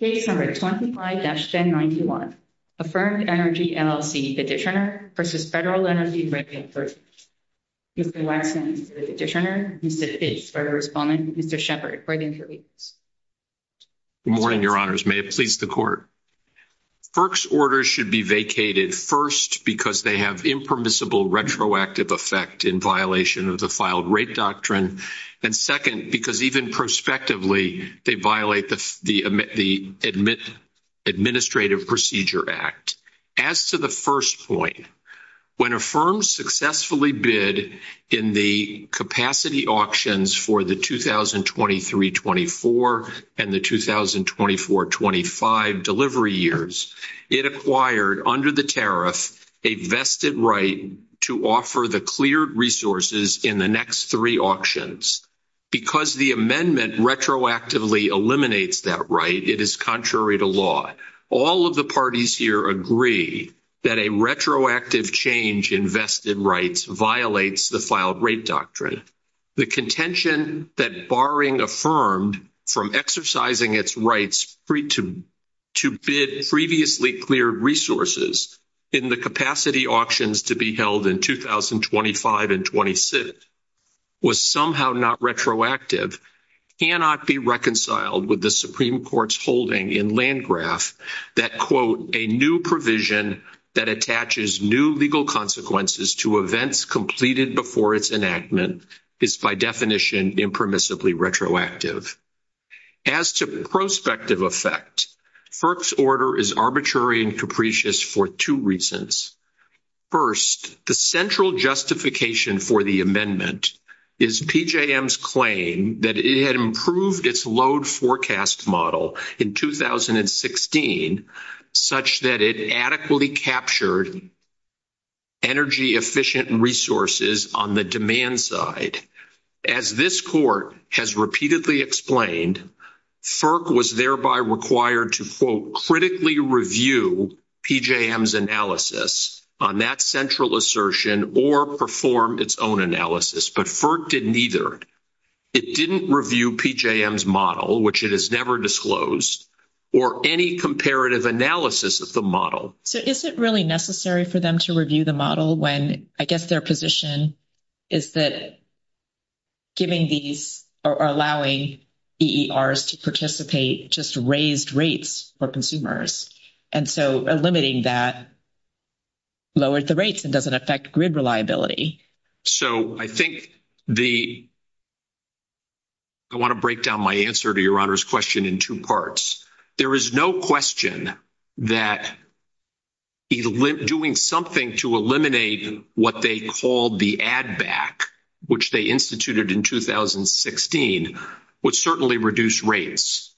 Page number 25-1091, Affirmed Energy, LLC petitioner v. Federal Energy Regulatory Service. Mr. Weissman, you are the petitioner. Mr. Fitch, you are the respondent. Mr. Sheppard, you are the interviewee. Good morning, Your Honors. May it please the Court. FERC's orders should be vacated, first, because they have impermissible retroactive effect in violation of the filed rape doctrine, and second, because even prospectively, they violate the Administrative Procedure Act. As to the first point, when a firm successfully bid in the capacity auctions for the 2023-24 and the 2024-25 delivery years, it acquired, under the tariff, a vested right to offer the cleared resources in the next three auctions. Because the amendment retroactively eliminates that right, it is contrary to law. All of the parties here agree that a retroactive change in vested rights violates the filed rape doctrine. Second, the contention that barring a firm from exercising its rights to bid previously cleared resources in the capacity auctions to be held in 2025 and 2026 was somehow not retroactive, cannot be reconciled with the Supreme Court's holding in Landgraf that, quote, a new provision that attaches new legal consequences to events completed before its enactment is, by definition, impermissibly retroactive. As to prospective effect, FERC's order is arbitrary and capricious for two reasons. First, the central justification for the amendment is PJM's claim that it had improved its load forecast model in 2016, such that it adequately captured energy-efficient resources on the demand side. As this court has repeatedly explained, FERC was thereby required to, quote, critically review PJM's analysis on that central assertion or perform its own analysis, but FERC didn't either. It didn't review PJM's model, which it has never disclosed, or any comparative analysis of the model. So is it really necessary for them to review the model when, I guess, their position is that giving these or allowing EERs to participate just raised rates for consumers? And so eliminating that lowers the rates and doesn't affect grid reliability. So I think the – I want to break down my answer to Your Honor's question in two parts. There is no question that doing something to eliminate what they called the ADVAC, which they instituted in 2016, would certainly reduce rates.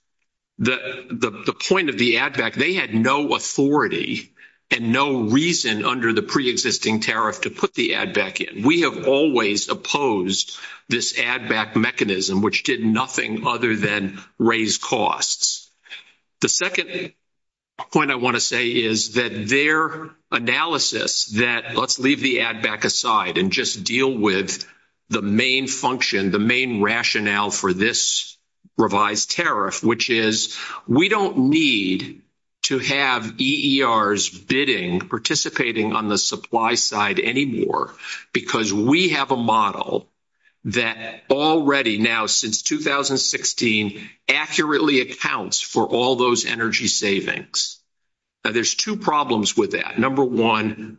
The point of the ADVAC, they had no authority and no reason under the preexisting tariff to put the ADVAC in. We have always opposed this ADVAC mechanism, which did nothing other than raise costs. The second point I want to say is that their analysis that let's leave the ADVAC aside and just deal with the main function, the main rationale for this revised tariff, which is we don't need to have EERs bidding, participating on the supply side anymore because we have a model that already now, since 2016, accurately accounts for all those energy savings. Now, there's two problems with that. Number one,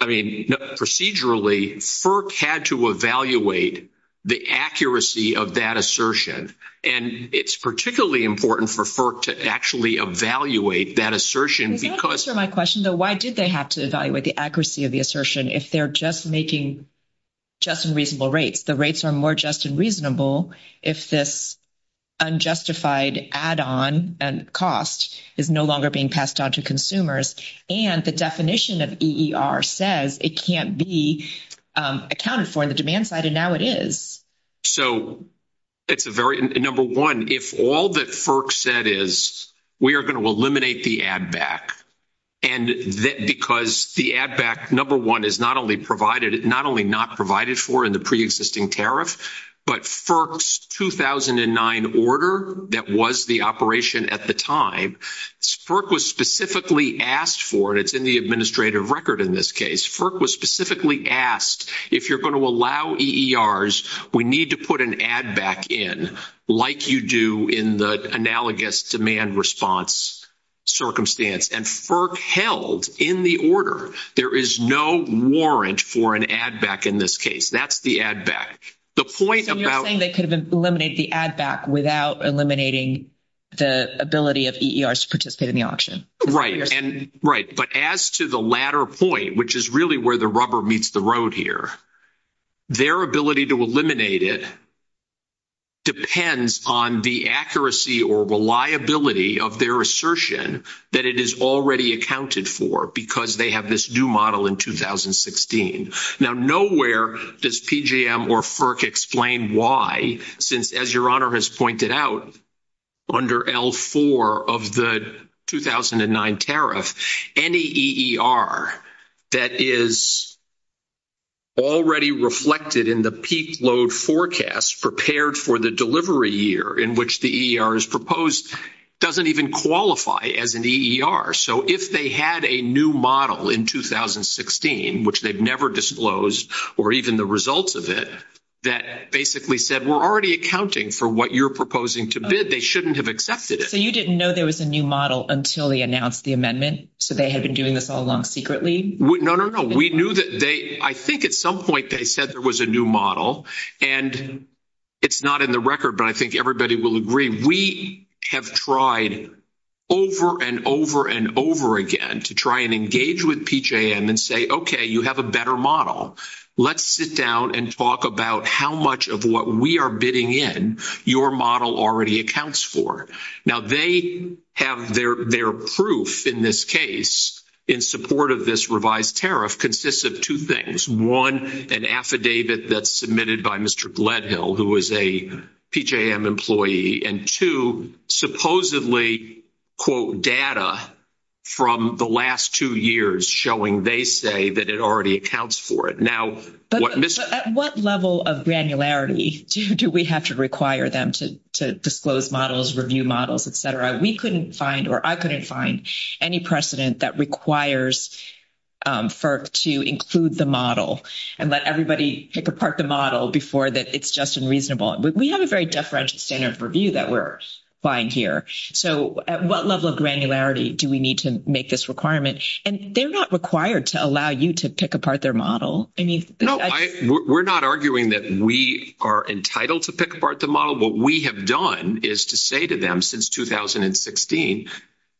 I mean, procedurally, FERC had to evaluate the accuracy of that assertion. And it's particularly important for FERC to actually evaluate that assertion because – Can you answer my question, though? Why did they have to evaluate the accuracy of the assertion if they're just making just and reasonable rates? The rates are more just and reasonable if this unjustified add-on and cost is no longer being passed on to consumers. And the definition of EER says it can't be accounted for on the demand side, and now it is. So it's a very – number one, if all that FERC said is we are going to eliminate the ADVAC because the ADVAC, number one, is not only not provided for in the preexisting tariff, but FERC's 2009 order that was the operation at the time, FERC was specifically asked for, and it's in the administrative record in this case, FERC was specifically asked if you're going to allow EERs, we need to put an ADVAC in like you do in the analogous demand response circumstance. And FERC held in the order. There is no warrant for an ADVAC in this case. That's the ADVAC. The point about – You're saying they could eliminate the ADVAC without eliminating the ability of EERs to participate in the auction. Right. Right. But as to the latter point, which is really where the rubber meets the road here, their ability to eliminate it depends on the accuracy or reliability of their assertion that it is already accounted for because they have this new model in 2016. Now, nowhere does PGM or FERC explain why, since, as Your Honor has pointed out, under L4 of the 2009 tariff, any EER that is already reflected in the peak load forecast prepared for the delivery year in which the EER is proposed doesn't even qualify as an EER. So if they had a new model in 2016, which they've never disclosed or even the results of it, that basically said we're already accounting for what you're proposing to bid, they shouldn't have accepted it. So you didn't know there was a new model until they announced the amendment? So they had been doing this all along secretly? No, no, no. We knew that they – I think at some point they said there was a new model. And it's not in the record, but I think everybody will agree. We have tried over and over and over again to try and engage with PGM and say, okay, you have a better model. Let's sit down and talk about how much of what we are bidding in your model already accounts for. Now, they have their proof in this case in support of this revised tariff consists of two things. One, an affidavit that's submitted by Mr. Gledhill, who is a PGM employee. And two, supposedly, quote, data from the last two years showing they say that it already accounts for it. Now, what – But at what level of granularity do we have to require them to disclose models, review models, et cetera? We couldn't find or I couldn't find any precedent that requires FERC to include the model and let everybody pick apart the model before that it's just unreasonable. We have a very different standard of review that we're applying here. So at what level of granularity do we need to make this requirement? And they're not required to allow you to pick apart their model. No, we're not arguing that we are entitled to pick apart the model. What we have done is to say to them since 2016,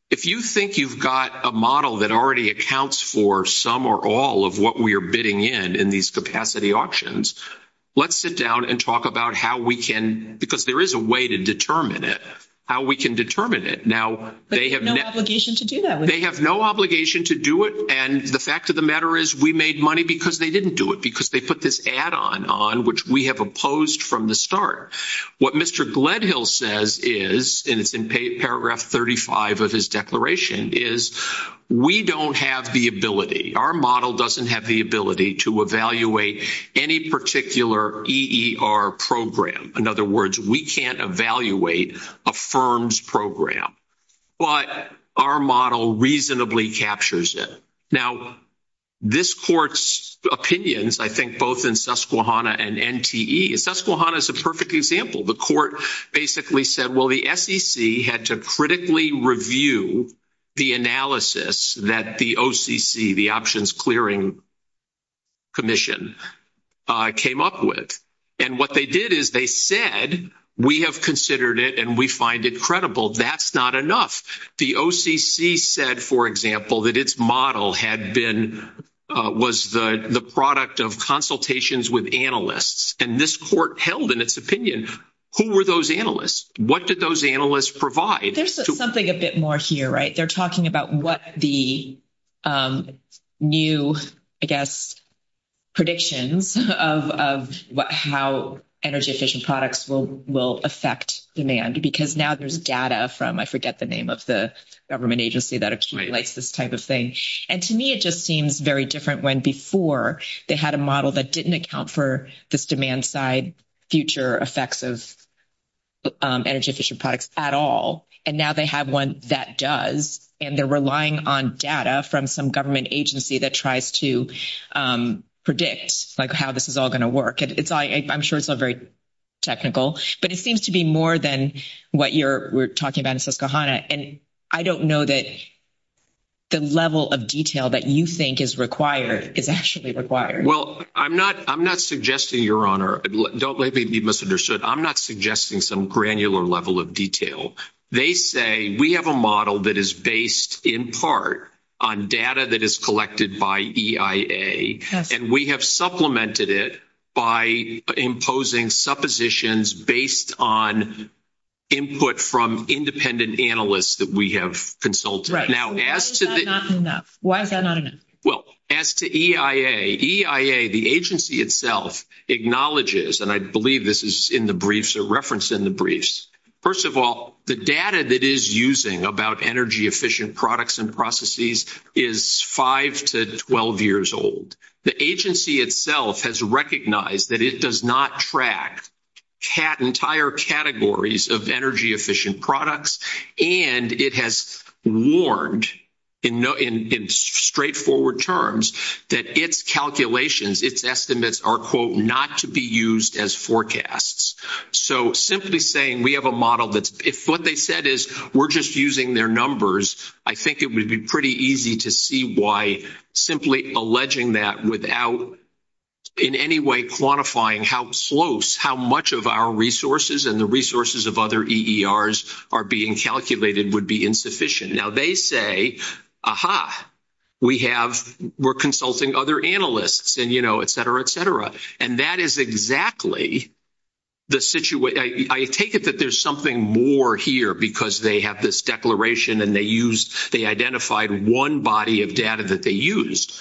if you think you've got a model that already accounts for some or all of what we are bidding in in these capacity options, let's sit down and talk about how we can – because there is a way to determine it – how we can determine it. Now, they have – But you have no obligation to do that. They have no obligation to do it. And the fact of the matter is we made money because they didn't do it, because they put this add-on on which we have opposed from the start. What Mr. Gledhill says is – and it's in paragraph 35 of his declaration – is we don't have the ability, our model doesn't have the ability to evaluate any particular EER program. In other words, we can't evaluate a firm's program. But our model reasonably captures it. Now, this court's opinions, I think, both in Susquehanna and NTE – Susquehanna is a perfect example. The court basically said, well, the SEC had to critically review the analysis that the OCC, the Options Clearing Commission, came up with. And what they did is they said, we have considered it and we find it credible. That's not enough. The OCC said, for example, that its model had been – was the product of consultations with analysts. And this court held in its opinion, who were those analysts? What did those analysts provide? There's something a bit more here, right? They're talking about what the new, I guess, predictions of how energy-efficient products will affect demand, because now there's data from – I forget the name of the government agency that accumulates this type of thing. And to me, it just seems very different when, before, they had a model that didn't account for this demand-side future effects of energy-efficient products at all. And now they have one that does. And they're relying on data from some government agency that tries to predict, like, how this is all going to work. I'm sure it's all very technical. But it seems to be more than what you're talking about in Susquehanna. And I don't know that the level of detail that you think is required is actually required. Well, I'm not suggesting, Your Honor – don't blame me if you misunderstood. I'm not suggesting some granular level of detail. They say we have a model that is based, in part, on data that is collected by EIA. And we have supplemented it by imposing suppositions based on input from independent analysts that we have consulted. Why is that not enough? Well, as to EIA, EIA, the agency itself, acknowledges – and I believe this is in the briefs or referenced in the briefs – first of all, the data that it is using about energy-efficient products and processes is 5 to 12 years old. The agency itself has recognized that it does not track entire categories of energy-efficient products. And it has warned, in straightforward terms, that its calculations, its estimates, are, quote, not to be used as forecasts. So simply saying we have a model that's – if what they said is we're just using their numbers, I think it would be pretty easy to see why simply alleging that without in any way quantifying how much of our resources and the resources of other EERs are being calculated would be insufficient. Now, they say, aha, we have – we're consulting other analysts and, you know, et cetera, et cetera. And that is exactly the situation – I take it that there's something more here because they have this declaration and they used – they identified one body of data that they used.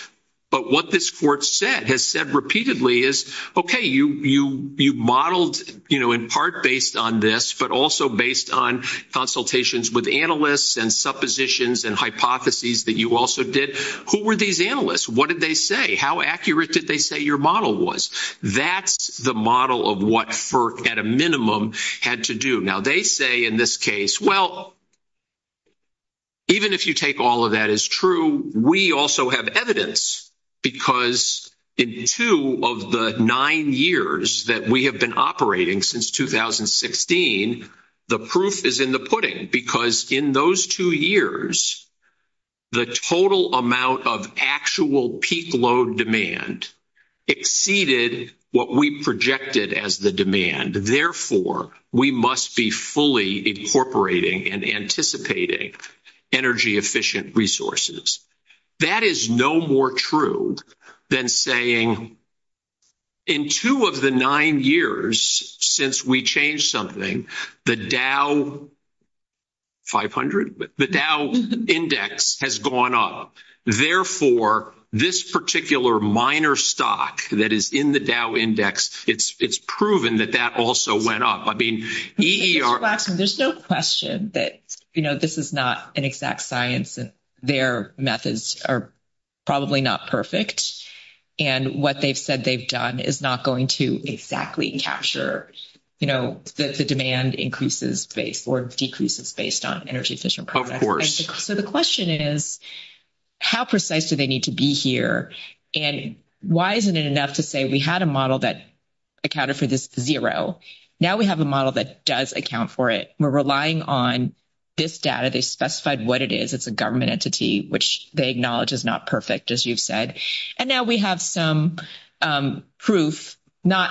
But what this court said, has said repeatedly, is, okay, you modeled, you know, in part based on this, but also based on consultations with analysts and suppositions and hypotheses that you also did. Who were these analysts? What did they say? How accurate did they say your model was? That's the model of what FERC, at a minimum, had to do. Now, they say in this case, well, even if you take all of that as true, we also have evidence because in two of the nine years that we have been operating since 2016, the proof is in the pudding because in those two years, the total amount of actual peak load demand exceeded what we projected as the demand. Therefore, we must be fully incorporating and anticipating energy efficient resources. That is no more true than saying in two of the nine years since we changed something, the Dow 500 – the Dow index has gone up. Therefore, this particular minor stock that is in the Dow index, it's proven that that also went up. There's no question that, you know, this is not an exact science. Their methods are probably not perfect. And what they've said they've done is not going to exactly capture, you know, that the demand increases or decreases based on energy efficient products. Of course. So the question is, how precise do they need to be here? And why isn't it enough to say we had a model that accounted for this zero? Now we have a model that does account for it. We're relying on this data. They specified what it is. It's a government entity, which they acknowledge is not perfect, as you've said. And now we have some proof, not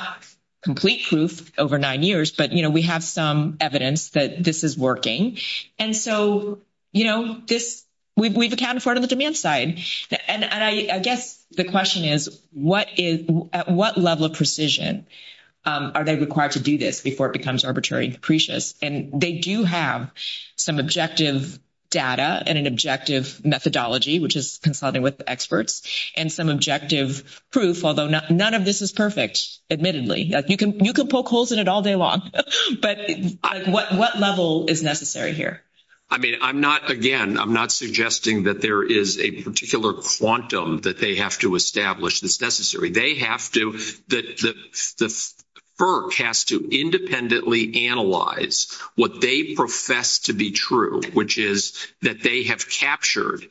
complete proof over nine years, but, you know, we have some evidence that this is working. And so, you know, this – we've accounted for it on the demand side. And I guess the question is, what is – at what level of precision are they required to do this before it becomes arbitrary and depreciate? And they do have some objective data and an objective methodology, which is consulting with the experts, and some objective proof, although none of this is perfect, admittedly. You can poke holes in it all day long. But what level is necessary here? I mean, I'm not – again, I'm not suggesting that there is a particular quantum that they have to establish that's necessary. They have to – the FERC has to independently analyze what they profess to be true, which is that they have captured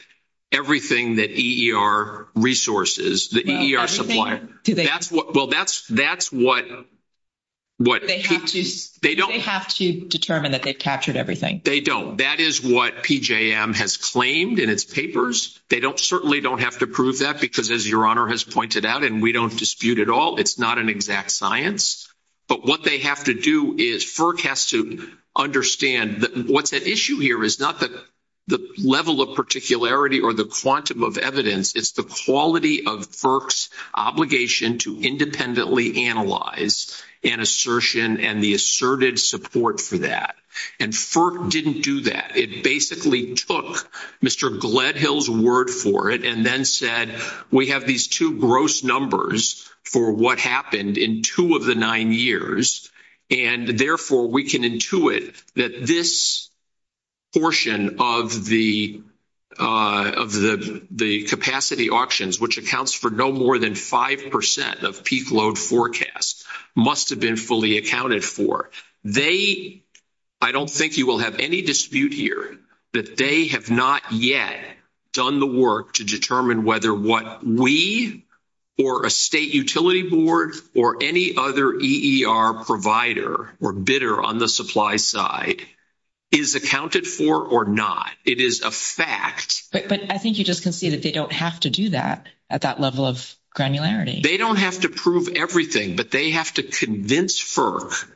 everything that EER resources, the EER supply. That's what – well, that's what keeps – They have to determine that they've captured everything. They don't. That is what PJM has claimed in its papers. They don't – certainly don't have to prove that because, as Your Honor has pointed out, and we don't dispute at all, it's not an exact science. But what they have to do is FERC has to understand that what's at issue here is not the level of particularity or the quantum of evidence. It's the quality of FERC's obligation to independently analyze an assertion and the assertive support for that. And FERC didn't do that. It basically took Mr. Gledhill's word for it and then said, we have these two gross numbers for what happened in two of the nine years, and therefore we can intuit that this portion of the capacity auctions, which accounts for no more than 5% of peak load forecast, must have been fully accounted for. I don't think you will have any dispute here that they have not yet done the work to determine whether what we or a state utility board or any other EER provider or bidder on the supply side is accounted for or not. It is a fact. But I think you just can see that they don't have to do that at that level of granularity. They don't have to prove everything, but they have to convince FERC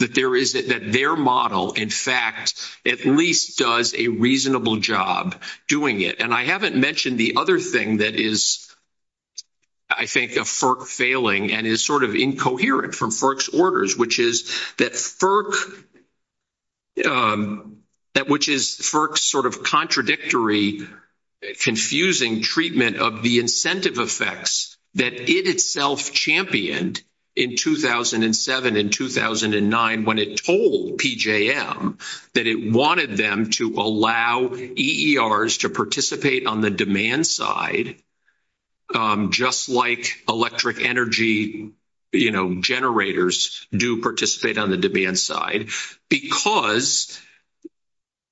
that their model, in fact, at least does a reasonable job doing it. And I haven't mentioned the other thing that is, I think, a FERC failing and is sort of incoherent from FERC's orders, which is that FERC's sort of contradictory, confusing treatment of the incentive effects that it itself championed in 2007 and 2009 when it told PJM that it wanted them to allow EERs to participate on the demand side just like electric energy generators do participate on the demand side because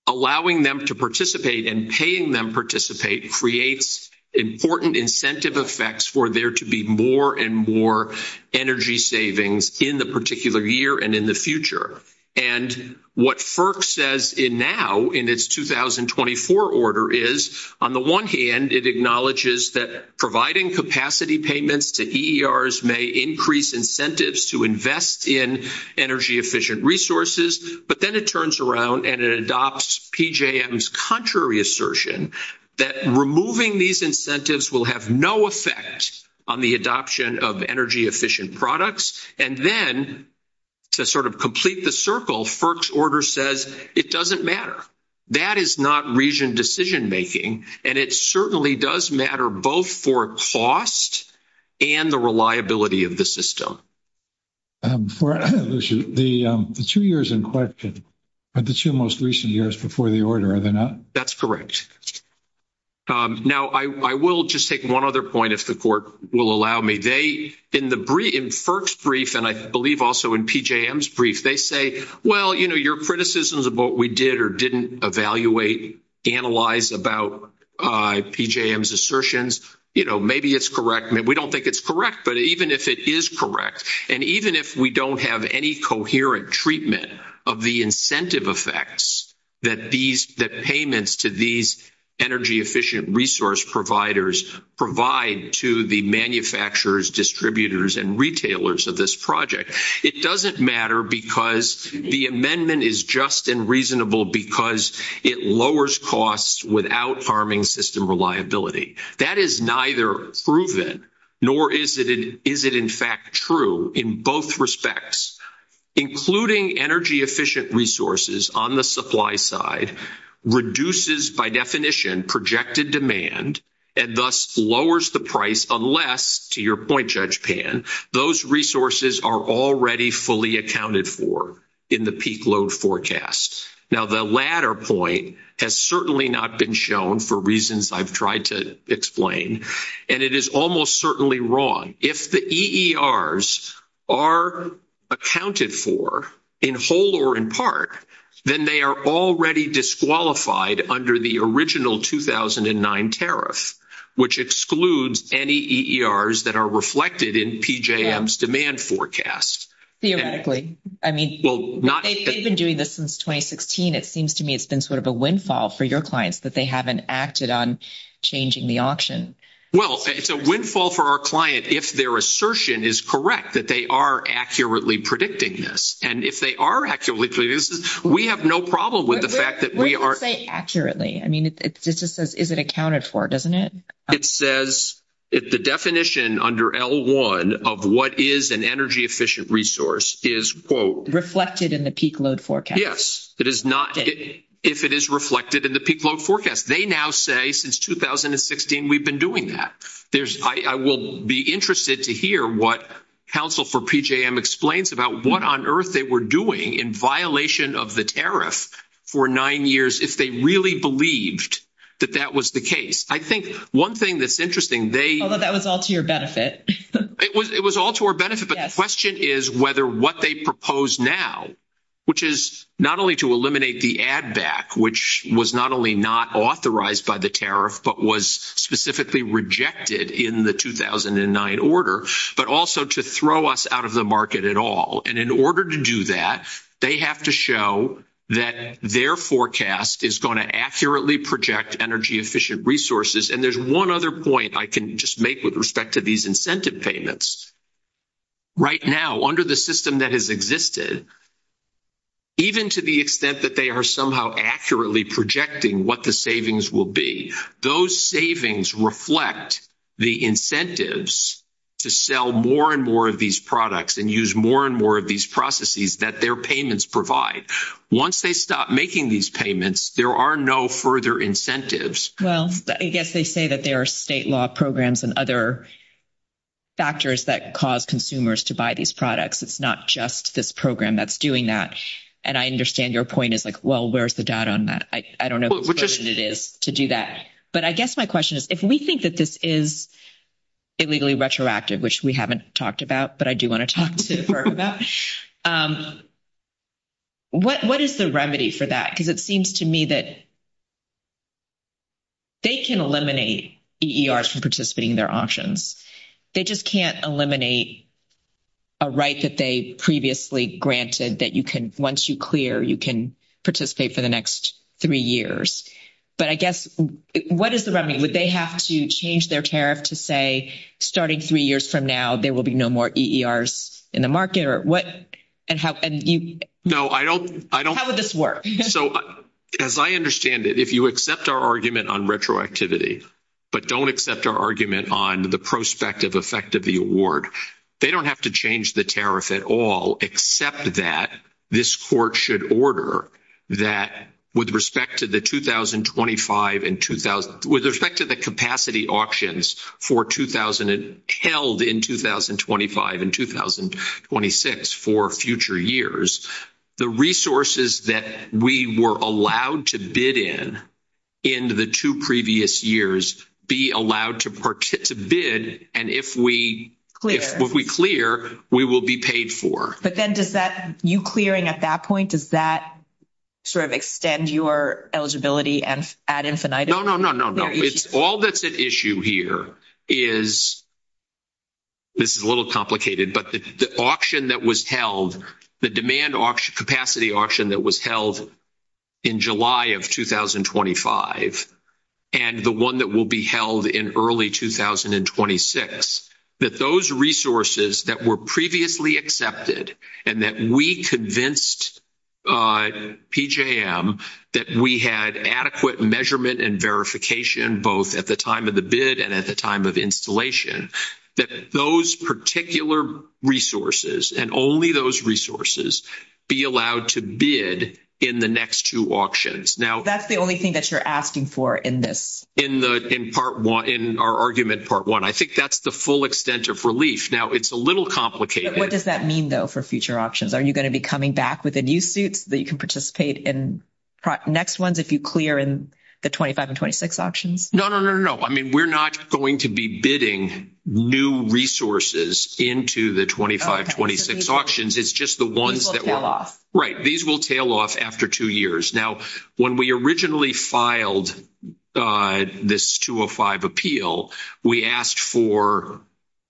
allowing them to participate and paying them to participate creates important incentive effects for there to be more and more energy savings in the particular year and in the future. And what FERC says now in its 2024 order is, on the one hand, it acknowledges that providing capacity payments to EERs may increase incentives to invest in energy-efficient resources, but then it turns around and it adopts PJM's contrary assertion that removing these incentives will have no effect on the adoption of energy-efficient products, and then to sort of complete the circle, FERC's order says it doesn't matter. That is not region decision-making, and it certainly does matter both for cost and the reliability of the system. The two years in question are the two most recent years before the order, are they not? That's correct. Now, I will just take one other point if the court will allow me. In FERC's brief, and I believe also in PJM's brief, they say, well, you know, if we analyze about PJM's assertions, you know, maybe it's correct. We don't think it's correct, but even if it is correct, and even if we don't have any coherent treatment of the incentive effects that payments to these energy-efficient resource providers provide to the manufacturers, distributors, and retailers of this project, it doesn't matter because the amendment is just and reasonable because it lowers costs without harming system reliability. That is neither proven nor is it in fact true in both respects. Including energy-efficient resources on the supply side reduces, by definition, projected demand and thus lowers the price unless, to your point, Judge Pan, those resources are already fully accounted for in the peak load forecast. Now, the latter point has certainly not been shown for reasons I've tried to explain, and it is almost certainly wrong. If the EERs are accounted for in whole or in part, then they are already disqualified under the original 2009 tariff, which excludes any EERs that are reflected in PJM's demand forecast. Theoretically. I mean, they've been doing this since 2016. It seems to me it's been sort of a windfall for your clients that they haven't acted on changing the option. Well, it's a windfall for our client if their assertion is correct that they are accurately predicting this. And if they are accurately predicting this, we have no problem with the fact that we are – What do you say accurately? I mean, it just says is it accounted for, doesn't it? It says the definition under L1 of what is an energy-efficient resource is, quote – Reflected in the peak load forecast. Yes. It is not if it is reflected in the peak load forecast. They now say since 2016 we've been doing that. I will be interested to hear what counsel for PJM explains about what on earth they were doing in violation of the tariff for nine years if they really believed that that was the case. I think one thing that's interesting, they – Although that was all to your benefit. It was all to our benefit, but the question is whether what they propose now, which is not only to eliminate the add-back, which was not only not authorized by the tariff but was specifically rejected in the 2009 order, but also to throw us out of the market at all. And in order to do that, they have to show that their forecast is going to accurately project energy-efficient resources. And there's one other point I can just make with respect to these incentive payments. Right now under the system that has existed, even to the extent that they are somehow accurately projecting what the savings will be, those savings reflect the incentives to sell more and more of these products and use more and more of these processes that their payments provide. Once they stop making these payments, there are no further incentives. Well, I guess they say that there are state law programs and other factors that cause consumers to buy these products. It's not just this program that's doing that. And I understand your point is like, well, where's the doubt on that? I don't know what it is to do that. But I guess my question is if we think that this is illegally retroactive, which we haven't talked about, but I do want to talk to her about, what is the remedy for that? Because it seems to me that they can eliminate EERs from participating in their auctions. They just can't eliminate a right that they previously granted that you can, once you clear, you can participate for the next three years. But I guess what is the remedy? Would they have to change their tariff to say, starting three years from now, there will be no more EERs in the market? How would this work? As I understand it, if you accept our argument on retroactivity, but don't accept our argument on the prospective effect of the award, they don't have to change the tariff at all except that this court should order that with respect to the 2025 and 2000, with respect to the capacity auctions held in 2025 and 2026 for future years, the resources that we were allowed to bid in in the two previous years be allowed to bid. And if we clear, we will be paid for. But then does that, you clearing at that point, does that sort of extend your eligibility ad infinitum? No, no, no, no. All that's at issue here is, this is a little complicated, but the auction that was held, the demand capacity auction that was held in July of 2025 and the one that will be held in early 2026, that those resources that were previously accepted and that we convinced PJM that we had adequate measurement and verification both at the time of the bid and at the time of installation, that those particular resources and only those resources be allowed to bid in the next two auctions. That's the only thing that you're asking for in this? In part one, in our argument part one. I think that's the full extent of relief. Now, it's a little complicated. What does that mean though for future auctions? Are you going to be coming back with a new suit that you can participate in next ones if you clear in the 2025 and 2026 auctions? No, no, no, no. I mean, we're not going to be bidding new resources into the 2025, 2026 auctions. It's just the ones that will. Right. These will tail off after two years. Now, when we originally filed this 205 appeal, we asked for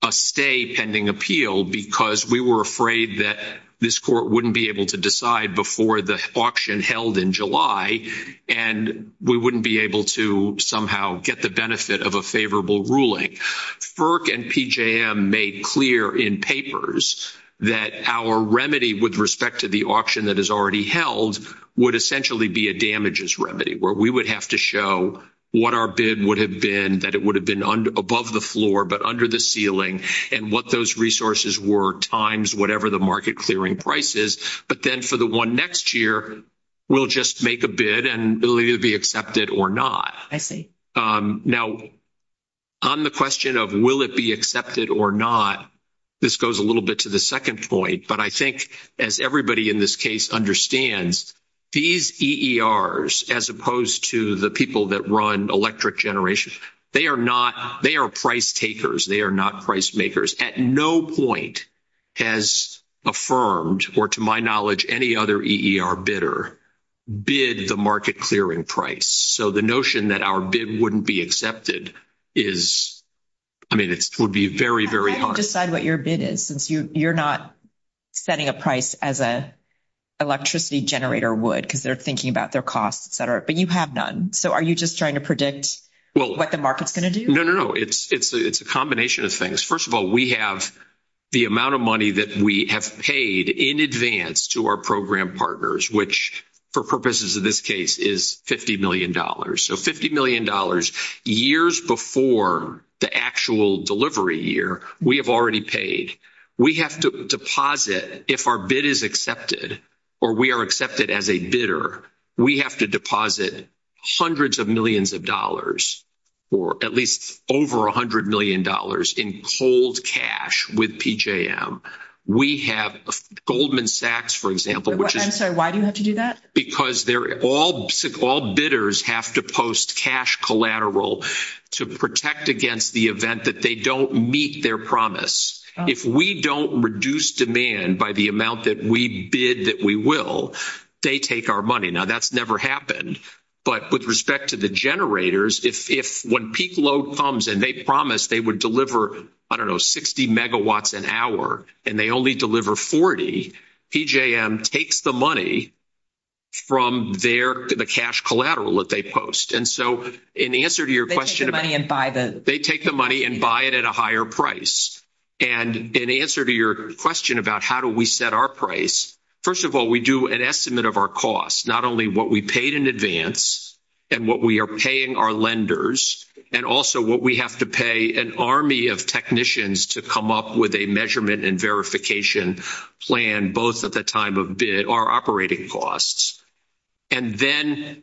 a stay pending appeal because we were afraid that this court wouldn't be able to decide before the auction held in July and we wouldn't be able to somehow get the benefit of a favorable ruling. FERC and PJM made clear in papers that our remedy with respect to the auction that has already held would essentially be a damages remedy where we would have to show what our bid would have been, that it would have been above the floor but under the ceiling and what those resources were times whatever the market clearing price is. But then for the one next year, we'll just make a bid and it'll either be accepted or not. I see. Now, on the question of will it be accepted or not, this goes a little bit to the second point. But I think as everybody in this case understands, these EERs as opposed to the people that run electric generation, they are price takers. They are not price makers. At no point has affirmed or to my knowledge any other EER bidder bid the market clearing price. So the notion that our bid wouldn't be accepted is, I mean, it would be very, very hard. You can't decide what your bid is since you're not setting a price as an electricity generator would because they're thinking about their costs, et cetera, but you have none. So are you just trying to predict what the market's going to do? No, no, no. It's a combination of things. First of all, we have the amount of money that we have paid in advance to our program partners, which for purposes of this case is $50 million. So $50 million years before the actual delivery year, we have already paid. We have to deposit, if our bid is accepted or we are accepted as a bidder, we have to deposit hundreds of millions of dollars or at least over a hundred million dollars in cold cash with PJM. We have Goldman Sachs, for example. I'm sorry, why do you have to do that? Because they're all bidders have to post cash collateral to protect against the event that they don't meet their promise. If we don't reduce demand by the amount that we bid that we will, they take our money. Now that's never happened, but with respect to the generators, if when peak low comes and they promised they would deliver, I don't know, 60 megawatts an hour and they only deliver 40, PJM takes the money from their cash collateral that they post. And so in answer to your question, they take the money and buy it at a higher price. And in answer to your question about how do we set our price? First of all, we do an estimate of our costs, not only what we paid in advance and what we are paying our lenders, and also what we have to pay an army of technicians to come up with a measurement and verification plan, both at the time of bid or operating costs, and then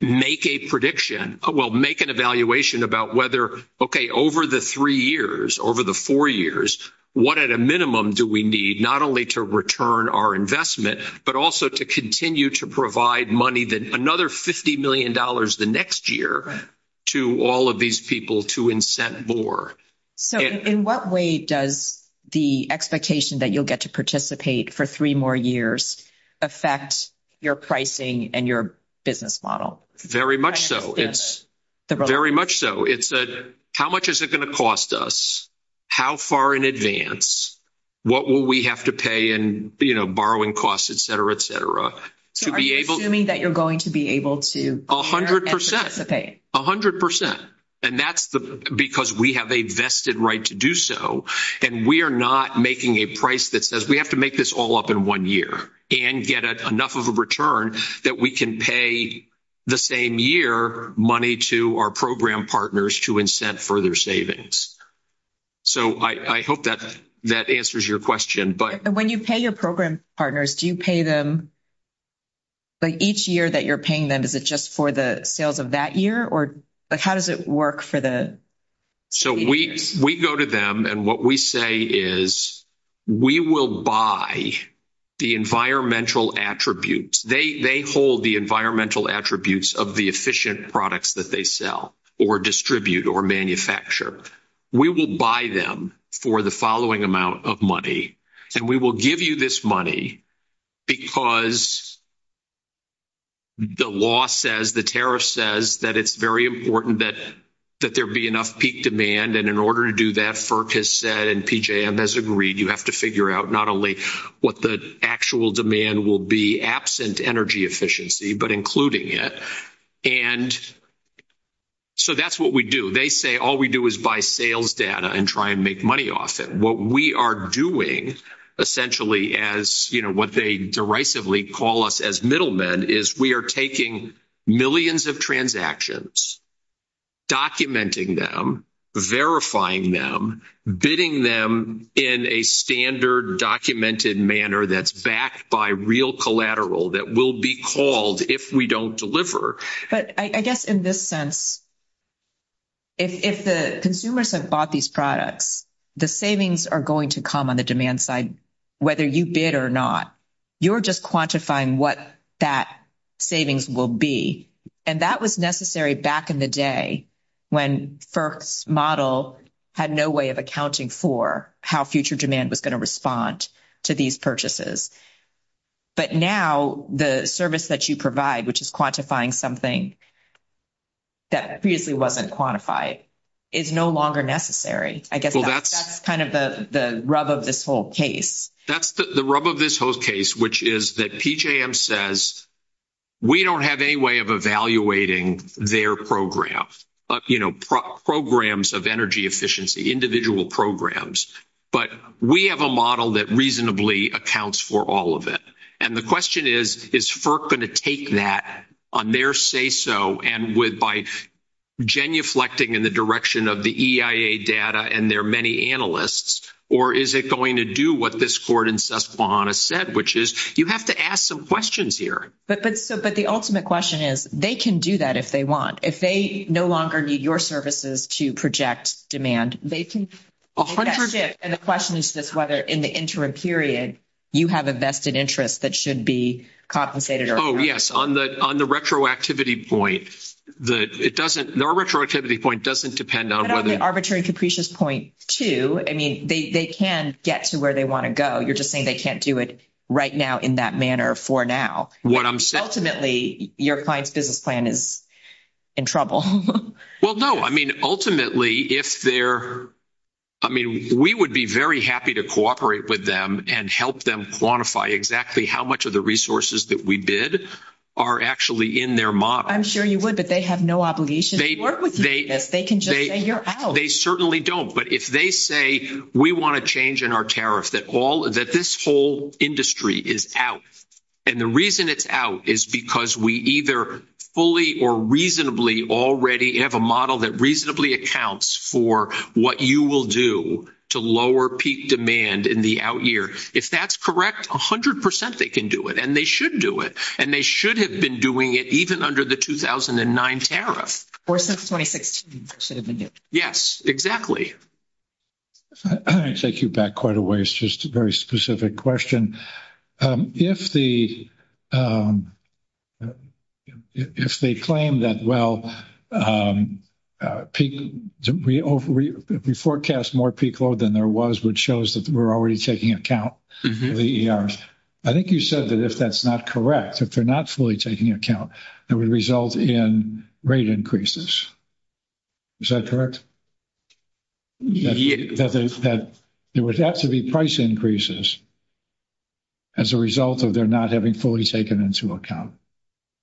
make a prediction. Well, make an evaluation about whether, okay, over the three years, over the four years, what at a minimum do we need? Not only to return our investment, but also to continue to provide money that another $50 million the next year to all of these people to incent more. So in what way does the expectation that you'll get to participate for three more years affects your pricing and your business model? Very much so. It's very much so. It's a, how much is it going to cost us? How far in advance? What will we have to pay and, you know, borrowing costs, et cetera, et cetera, assuming that you're going to be able to a hundred percent, a hundred percent. And that's the, because we have a vested right to do so and we are not making a price. That says we have to make this all up in one year and get enough of a return that we can pay the same year money to our program partners to incent further savings. So I hope that that answers your question, but. And when you pay your program partners, do you pay them? Like each year that you're paying them, is it just for the sales of that year? Or like, how does it work for the. So we, we go to them. And what we say is we will buy the environmental attributes. They, they hold the environmental attributes of the efficient products that they sell or distribute or manufacture. We will buy them for the following amount of money. And we will give you this money because the law says the tariff says that it's very important that, that there be enough peak demand. And in order to do that, FERC has said, and PJM has agreed, you have to figure out not only what the actual demand will be absent energy efficiency, but including it. And so that's what we do. They say, all we do is buy sales data and try and make money off it. What we are doing essentially as you know, what they derisively call us as middlemen is we are taking millions of transactions, documenting them, verifying them, bidding them in a standard documented manner. That's backed by real collateral that will be called if we don't deliver. But I guess in this sense, if, if the consumers have bought these products, the savings are going to come on the demand side, whether you bid or not, you're just quantifying what that savings will be. And that was necessary back in the day when first model had no way of accounting for how future demand was going to respond to these purchases. But now the service that you provide, which is quantifying something that previously wasn't quantified is no longer necessary. I guess that's kind of the rub of this whole case. That's the rub of this whole case, which is that PJM says we don't have any way of evaluating their program, but you know, programs of energy efficiency, individual programs, but we have a model that reasonably accounts for all of it. And the question is, is FERC going to take that on their say so and with by genuflecting in the direction of the EIA data and their many analysts, or is it going to do what this court in Susquehanna said, which is you have to ask some questions here. But the ultimate question is they can do that if they want, if they no longer need your services to project demand, they can. And the question is just whether in the interim period you have a vested interest that should be compensated. Oh yes. On the, on the retroactivity point, it doesn't, the retroactivity point doesn't depend on whether. That's an arbitrary and capricious point too. I mean, they can get to where they want to go. You're just saying they can't do it right now in that manner for now. What I'm saying. Ultimately your client's business plan is in trouble. Well, no, I mean, ultimately if they're, I mean, we would be very happy to cooperate with them and help them quantify exactly how much of the resources that we bid are actually in their model. I'm sure you would, but they have no obligation to work with you. They can just say you're out. They certainly don't. But if they say we want to change in our tariff, that all that this whole industry is out. And the reason it's out is because we either fully or reasonably already have a model that reasonably accounts for what you will do to lower peak demand in the out year. If that's correct, a hundred percent, they can do it. And they should do it. And they should have been doing it even under the 2009 tariff. Or since 2016. Yes, exactly. I'm going to take you back quite a ways, just a very specific question. If they claim that, well, we forecast more peak load than there was, which shows that we're already taking account of the ERs. I think you said that if that's not correct, if they're not fully taking account, it would result in rate increases. Is that correct? Yes. That there would have to be price increases as a result of their not having fully taken into account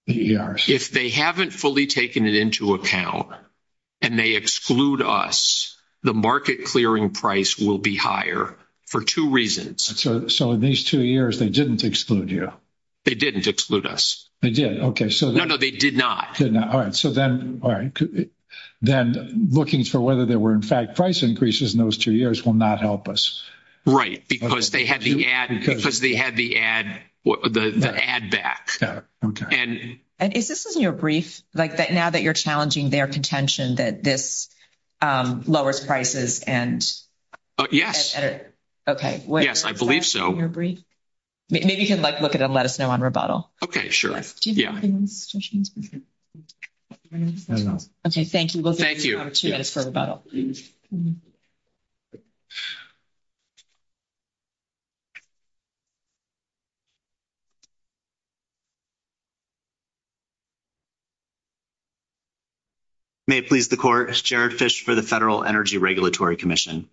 the ERs. If they haven't fully taken it into account and they exclude us, the market clearing price will be higher for two reasons. So in these two years, they didn't exclude you. They didn't exclude us. They did. No, no, they did not. All right. So then looking for whether there were, in fact, price increases in those two years will not help us. Right. Because they had the ad back. Is this in your brief, like now that you're challenging their contention that this lowers prices? Yes. Okay. I believe so. Maybe you can look at it and let us know on rebuttal. Okay. Sure. Okay. Thank you. Thank you. May it please the court. It's Jared Fish for the Federal Energy Regulatory Commission.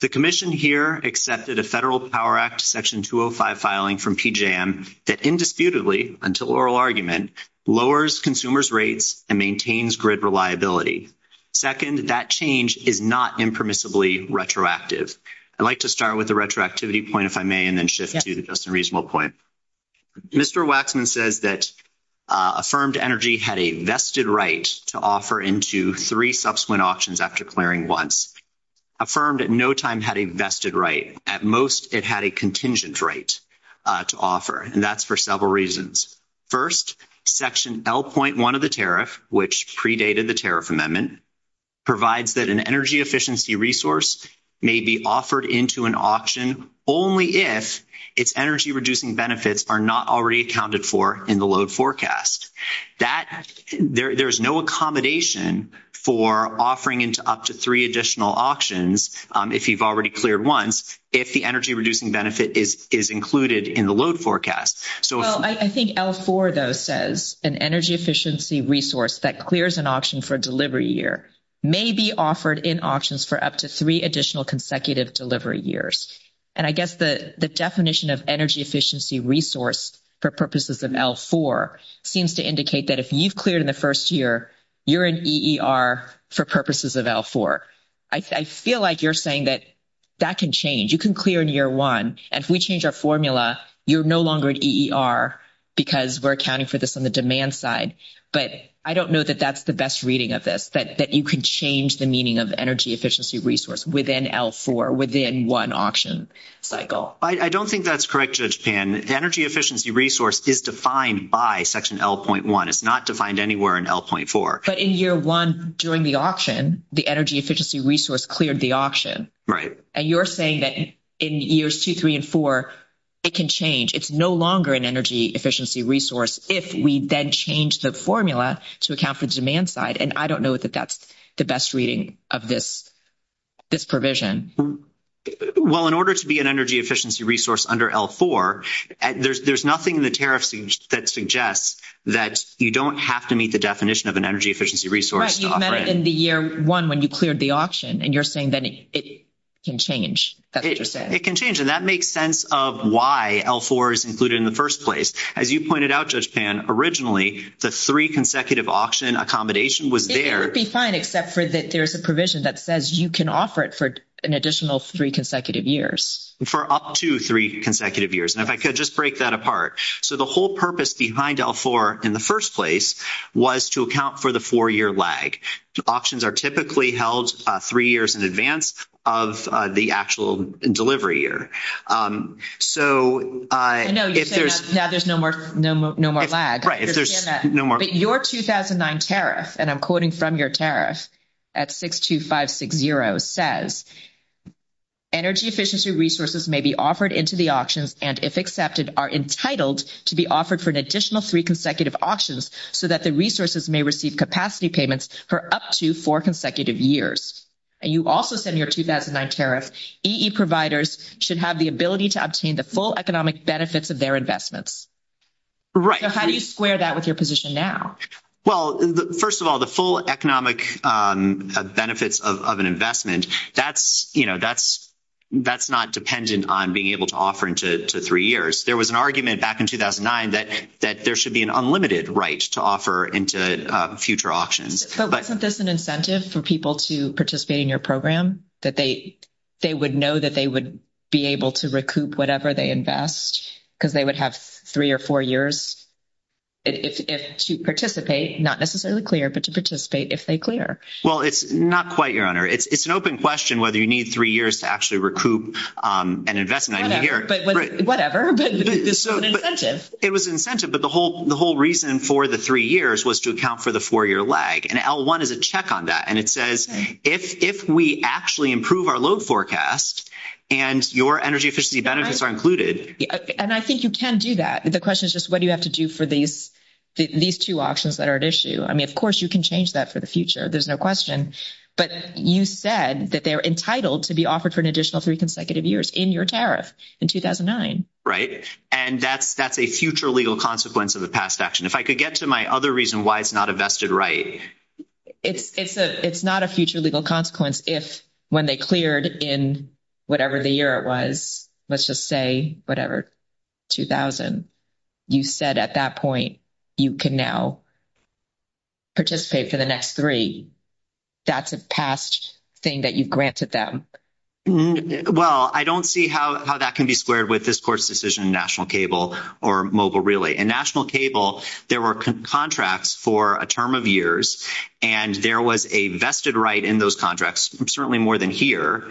The commission here accepted a Federal Power Act section 205 filing from PJM that indisputably until oral argument lowers consumers' rates and maintains grid reliability. Second, that change is not impermissibly retroactive. I'd like to start with the retroactivity point, if I may, and then shift to the just a reasonable point. Mr. Waxman says that affirmed energy had a vested right to offer into three subsequent options after clearing once. Affirmed at no time had a vested right at most. It had a contingent right to offer. And that's for several reasons. First section L 0.1 of the tariff, which predated the tariff amendment provides that an energy efficiency resource may be offered into an option. Only if it's energy reducing benefits are not already accounted for in the load forecast that there there's no accommodation for offering into up to three additional auctions. If you've already cleared once, if the energy reducing benefit is included in the load forecast. So I think L4 though, says an energy efficiency resource that clears an option for delivery year may be offered in options for up to three additional consecutive delivery years. And I guess the definition of energy efficiency resource for purposes of L4 seems to indicate that if you've cleared in the first year, you're an EER for purposes of L4. I feel like you're saying that that can change. You can clear in year one. And if we change our formula, you're no longer an EER because we're accounting for this on the demand side. But I don't know that that's the best reading of this, but that you can change the meaning of energy efficiency resource within L4 within one auction cycle. I don't think that's correct. The energy efficiency resource is defined by section L 0.1. It's not defined anywhere in L 0.4. But in year one, during the auction, the energy efficiency resource cleared the option. Right. And you're saying that in years two, three, and four, it can change. It's no longer an energy efficiency resource. If we then change the formula to account for the demand side. And I don't know that that's the best reading of this, this provision. Well, in order to be an energy efficiency resource under L4, there's, there's nothing in the tariffs that suggests that you don't have to meet the definition of an energy efficiency resource. Right. You've met it in the year one, when you cleared the auction. And you're saying that it can change. It can change. And that makes sense of why L4 is included in the first place. As you pointed out, Judge Pan, originally the three consecutive auction accommodation was there. It would be fine, except for that there's a provision that says you can offer it for an additional three consecutive years. For up to three consecutive years. And if I could just break that apart. So the whole purpose behind L4 in the first place was to account for the four-year lag. So auctions are typically held three years in advance of the actual delivery year. So. I know. Now there's no more, no more, no more lag. Right. Your 2009 tariff, and I'm quoting from your tariff at 6, 2, 5, 6, 0 says energy efficiency resources may be offered into the auctions. And if accepted are entitled to be offered for an additional three consecutive auctions so that the resources may receive capacity payments for up to four consecutive years. And you also said in your 2009 tariff, EE providers should have the ability to obtain the full economic benefits of their investments. Right. So how do you square that with your position now? Well, first of all, the full economic benefits of an investment that's, you know, that's, that's not dependent on being able to offer into three years. There was an argument back in 2009 that, that there should be an unlimited right to offer into future options, but there's an incentive for people to participate in your program, that they, they would know that they would be able to recoup whatever they invest because they would have three or four years. To participate, not necessarily clear, but to participate if they clear. Well, it's not quite your honor. It's an open question whether you need three years to actually recoup an investment. Whatever. It was incentive, but the whole, the whole reason for the three years was to account for the four year lag. And L one is a check on that. And it says if, if we actually improve our load forecast and your energy efficiency benefits are included. And I think you can do that. The question is just what do you have to do for these, these two options that are at issue? I mean, of course you can change that for the future. There's no question, but you said that they're entitled to be offered for an additional three consecutive years in your tariff in 2009. Right. And that's, that's a future legal consequence of the past action. If I could get to my other reason why it's not a vested, right. It's a, it's not a future legal consequence if, when they cleared in whatever the year it was, let's just say whatever. 2000. You said at that point, you can now participate for the next three. That's the past thing that you've granted them. Well, I don't see how that can be squared with this course decision, national cable or mobile relay and national cable. There were contracts for a term of years and there was a vested right in those contracts. Certainly more than here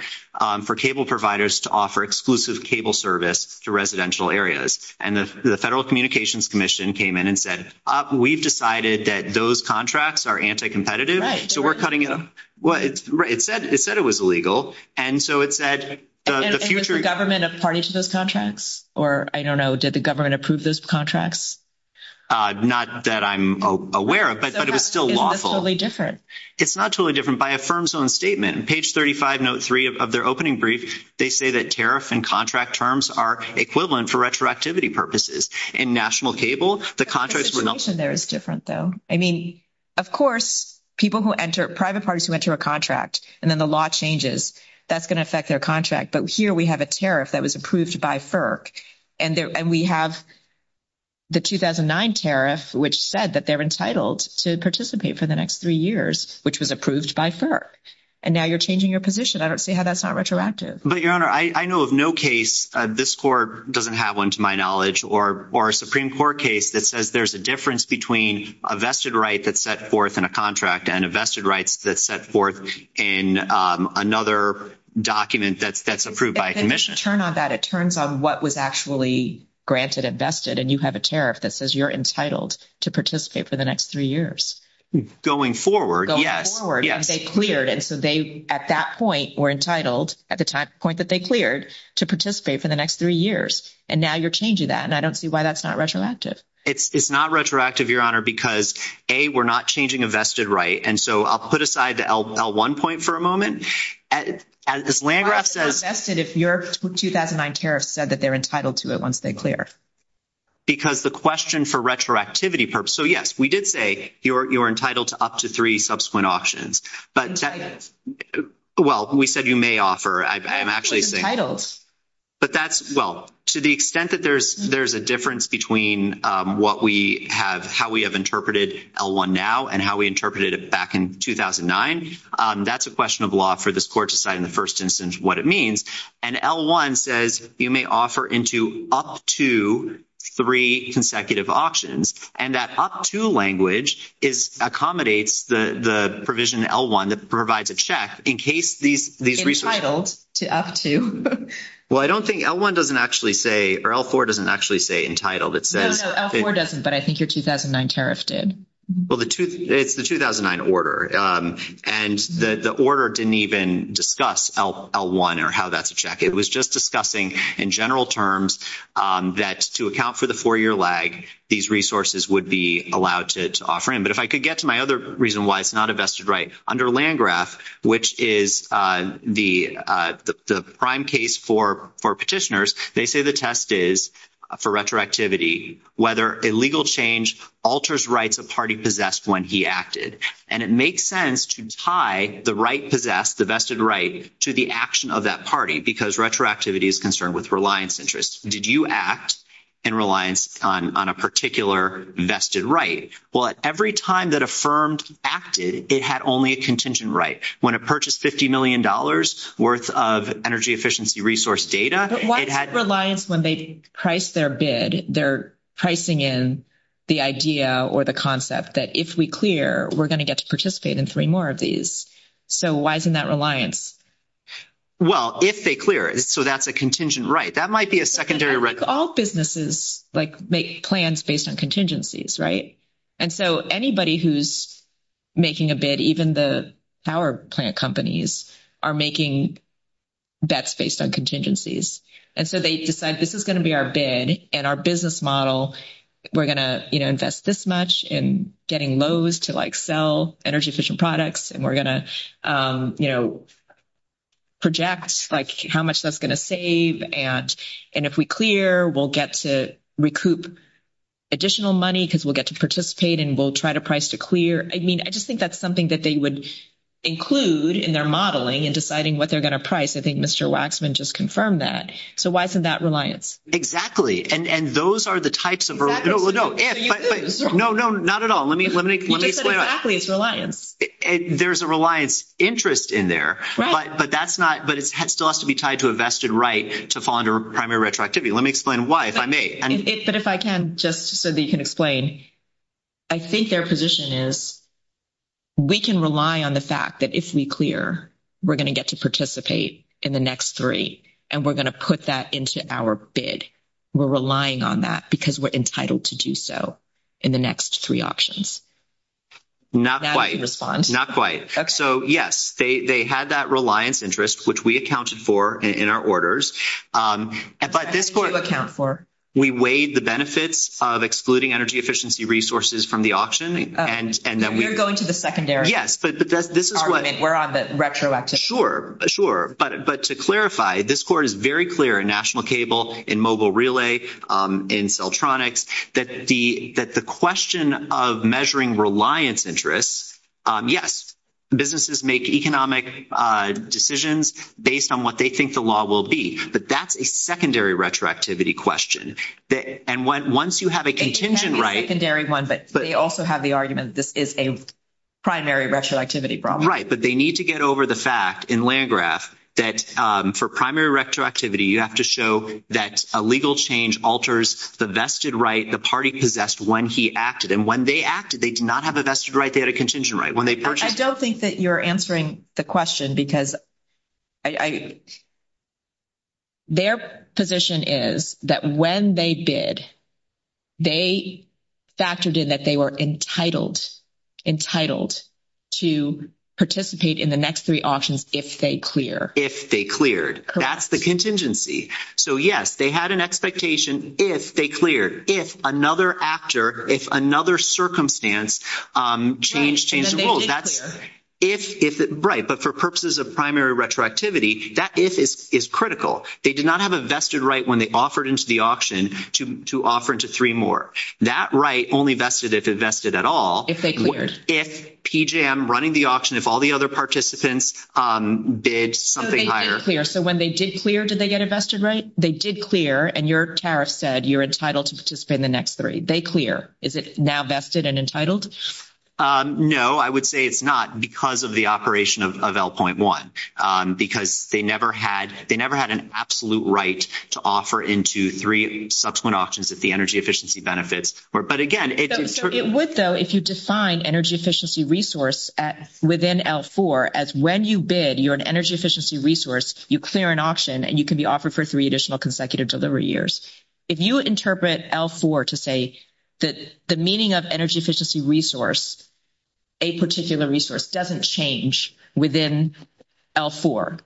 for cable providers to offer exclusive cable service to residential areas. And the federal communications commission came in and said, we've decided that those contracts are anti-competitive. So we're cutting it. Well, it's right. It said, it said it was illegal. And so it's that the government of parties to those contracts, or I don't know, did the government approve those contracts? Not that I'm aware of, but it was still lawfully different. It's not totally different by a firm's own statement, page 35 note three of their opening brief. They say that tariff and contract terms are equivalent for retroactivity purposes and national cable, the contracts. There is different though. I mean, of course, people who enter private parties who enter a contract and then the law changes, that's going to affect their contract. But here we have a tariff that was approved by FERC and there, and we have. The 2009 tariff, which said that they're entitled to participate for the next three years, which was approved by FERC. And now you're changing your position. I don't see how that's not retroactive, but your honor, I know of no case. This court doesn't have one to my knowledge or, or a Supreme court case that says there's a difference between a vested right. That's set forth in a contract and a vested rights that set forth in another document that that's approved by commission. Turn on that. It turns on what was actually granted invested. And you have a tariff that says you're entitled to participate for the next three years going forward. And so they, at that point were entitled at the time point that they cleared to participate for the next three years. And now you're changing that. And I don't see why that's not retroactive. It's not retroactive your honor, because a, we're not changing invested. And so I'll put aside the L L one point for a moment. As this land. If your 2009 tariff said that they're entitled to it, once they clear. Because the question for retroactivity purpose. So yes, we did say you're, you're entitled to up to three subsequent options, but well, we said you may offer. I'm actually saying titles, but that's well, to the extent that there's, there's a difference between what we have, how we have interpreted L one now and how we interpreted it back in 2009. That's a question of law for this court to decide in the first instance, what it means. And L one says you may offer into up to three consecutive options. And that up to language is accommodates the, the provision L one that provides a check in case these, these titles to ask you. Well, I don't think L one doesn't actually say, or L four doesn't actually say entitled. It says, but I think your 2009 tariff did. the two it's the 2009 order and the, the order didn't even discuss L L one or how that's check. It was just discussing in general terms that to account for the four year lag, these resources would be allowed to offer him. But if I could get to my other reason why it's not a vested right under land graph, which is the, the prime case for, for petitioners, they say the test is for retroactivity, whether a legal change alters rights, a party possessed when he acted. And it makes sense to tie the right, possessed the vested right to the action of that party, because retroactivity is concerned with reliance interests. Did you act in reliance on, on a particular vested right? Well, every time that affirmed acted, it had only a contingent, right? When it purchased $50 million worth of energy efficiency, resource data, it had reliance when they price their bid. They're pricing in the idea or the concept that if we clear, we're going to get to participate in three more of these. So why isn't that reliance? Well, if they clear it, so that's a contingent, right? That might be a secondary, right? All businesses like make plans based on contingencies. Right. And so anybody who's making a bid, even the power plant companies are making. That's based on contingencies. And so they decide this is going to be our bed and our business model. We're going to invest this much in getting lows to like, sell energy efficient products. And we're going to, you know, project like how much that's going to save. And, and if we clear, we'll get to recoup additional money because we'll get to participate and we'll try to price to clear. I mean, I just think that's something that they would include in their modeling and deciding what they're going to price. I think Mr. Waxman just confirmed that. So why isn't that reliance? Exactly. And, and those are the types of, no, no, no, not at all. Let me, let me explain. There's a reliance interest in there, but that's not, but it still has to be tied to a vested right to fall under primary retroactivity. Let me explain why, if I may. But if I can just so that you can explain, I think their position is. We can rely on the fact that if we clear, we're going to get to participate in the next three and we're going to put that into our bid. We're relying on that because we're entitled to do so in the next three options. Not quite, not quite. yes, they, they had that reliance interest, which we accounted for in our orders. But this, we weighed the benefits of excluding energy efficiency resources from the auction. and then we're going to the secondary. but this is what we're on the retroactive. Sure. But, but to clarify, this court is very clear in national cable in mobile relay in cell tronics. That's the, that's the question of measuring reliance interest. Yes, businesses make economic decisions based on what they think the law will be. But that's a secondary retroactivity question that, and once you have a contingent, right, secondary one, but they also have the argument. This is a primary retroactivity problem, right? But they need to get over the fact in land graph that for primary retroactivity, you have to show that a legal change alters the vested, right? The party possessed one, he acted. And when they acted, they did not have a vested right. They had a contingent, right? When they purchased that, you're answering the question because I, their position is that when they did, they factored in that. They were entitled, entitled to participate in the next three options. If they clear, if they cleared, that's the contingency. So yes, they had an expectation. If they cleared, if another actor, if another circumstance change, that's if, if it bright, but for purposes of primary retroactivity, that is, it is critical. They did not have a vested right when they offered into the auction to, to offer to three more that right. Only vested if invested at all, if they, if PJ, I'm running the auction, if all the other participants bid something higher, they did not clear. So when they did clear, did they get invested, right? They did clear. And your Tara said, you're entitled to spend the next three. They clear. Is it now vested and entitled? I would say it's not because of the operation of, of L 0.1, because they never had, they never had an absolute right to offer into three subsequent options that the energy efficiency benefits. Or, but again, it would though, if you define energy efficiency resource at within L four, as when you bid, you're an energy efficiency resource, you clear an option and you can be offered for three additional consecutive delivery years. If you interpret L four to say that the meaning of energy efficiency resource, a particular resource doesn't change within L four.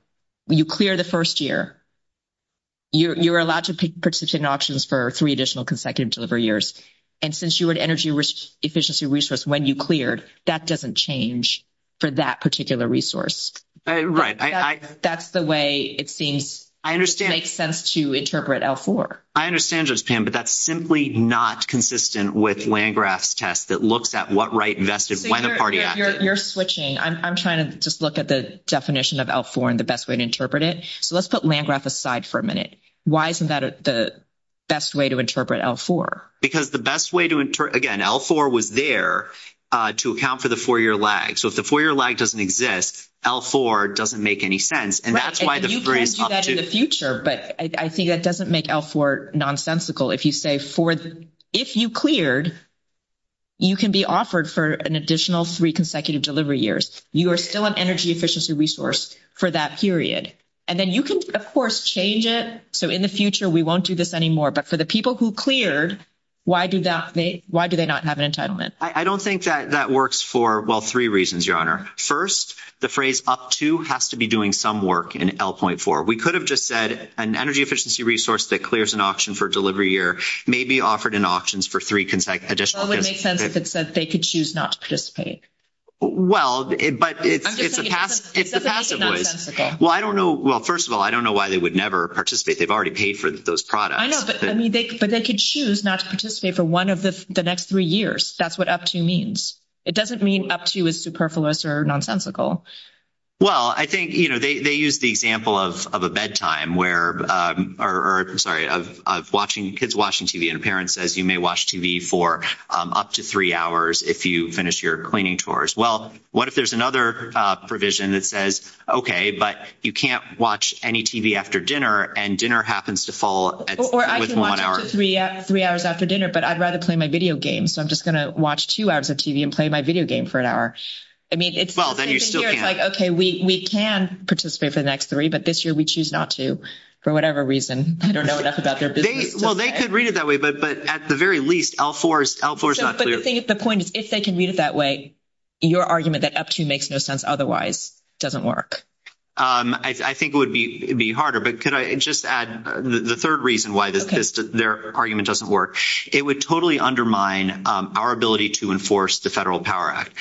When you clear the first year, you're, you're allowed to participate in options for three additional consecutive delivery years. And since you were an energy efficiency resource, when you cleared, that doesn't change for that particular resource. Right. That's the way it seems. I understand. Makes sense to interpret L four. I understand just Pam, but that's simply not consistent with land graphs test that looks at what right invested. You're switching. I'm trying to just look at the definition of L four and the best way to interpret it. So let's put land graph aside for a minute. Why isn't that the best way to interpret L four? Because the best way to enter again, L four was there to account for the four year lag. So if the four year lag doesn't exist, L four doesn't make any sense. And that's why the future, but I think that doesn't make L four nonsensical. If you say Ford, if you cleared, you can be offered for an additional three consecutive delivery years. You are still an energy efficiency resource for that period. And then you can of course change it. So in the future, we won't do this anymore, but for the people who cleared, why do that? Why do they not have an entitlement? I don't think that that works for well, three reasons, your honor. First, the phrase up to has to be doing some work in L point four. We could have just said an energy efficiency resource that clears an option for delivery year may be offered in auctions for three consecutive additional. It makes sense. If it says they could choose not to participate. but it's, it's, well, I don't know. Well, first of all, I don't know why they would never participate. They've already paid for those products, but they could choose not to participate for one of the, the next three years. That's what up to means. It doesn't mean up to a superfluous or nonsensical. Well, I think, you know, they, they use the example of, of a bedtime where, or, sorry, of, of watching kids, watching TV and parents, as you may watch TV for up to three hours, if you finish your cleaning tours. Well, what if there's another provision that says, okay, but you can't watch any TV after dinner and dinner happens to fall. Three hours after dinner, but I'd rather play my video game. So I'm just going to watch two hours of TV and play my video game for an hour. I mean, it's like, we, we can participate for the next three, but this year we choose not to for whatever reason. I don't know what that's about. Well, they could read it that way, but at the very least, I'll force, I'll force. The point is, if they can read it that way, your argument that up to makes no sense. it doesn't work. I think it would be, it'd be harder, but could I just add the third reason? Why does their argument doesn't work? It would totally undermine our ability to enforce the federal power act.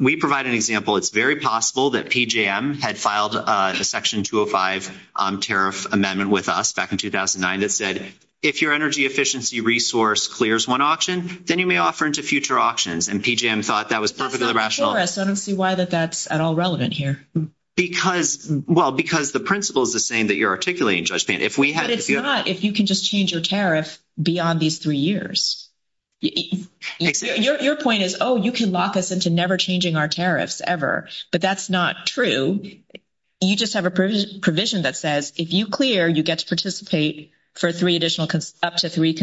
We provide an example. It's very possible that PJM had filed a section 205 tariff amendment with us back in 2009 that said, if your energy efficiency resource clears one auction, then you may offer into future auctions. And PJM thought that was perfectly rational. I don't see why that that's at all relevant here. Because well, because the principle is the same that you're articulating judgment. If we had, if you can just change your tariff beyond these three years, your point is, you can lock us into never changing our tariffs ever, but that's not true. You just have a provision that says, if you clear, you get to participate for three additional up to three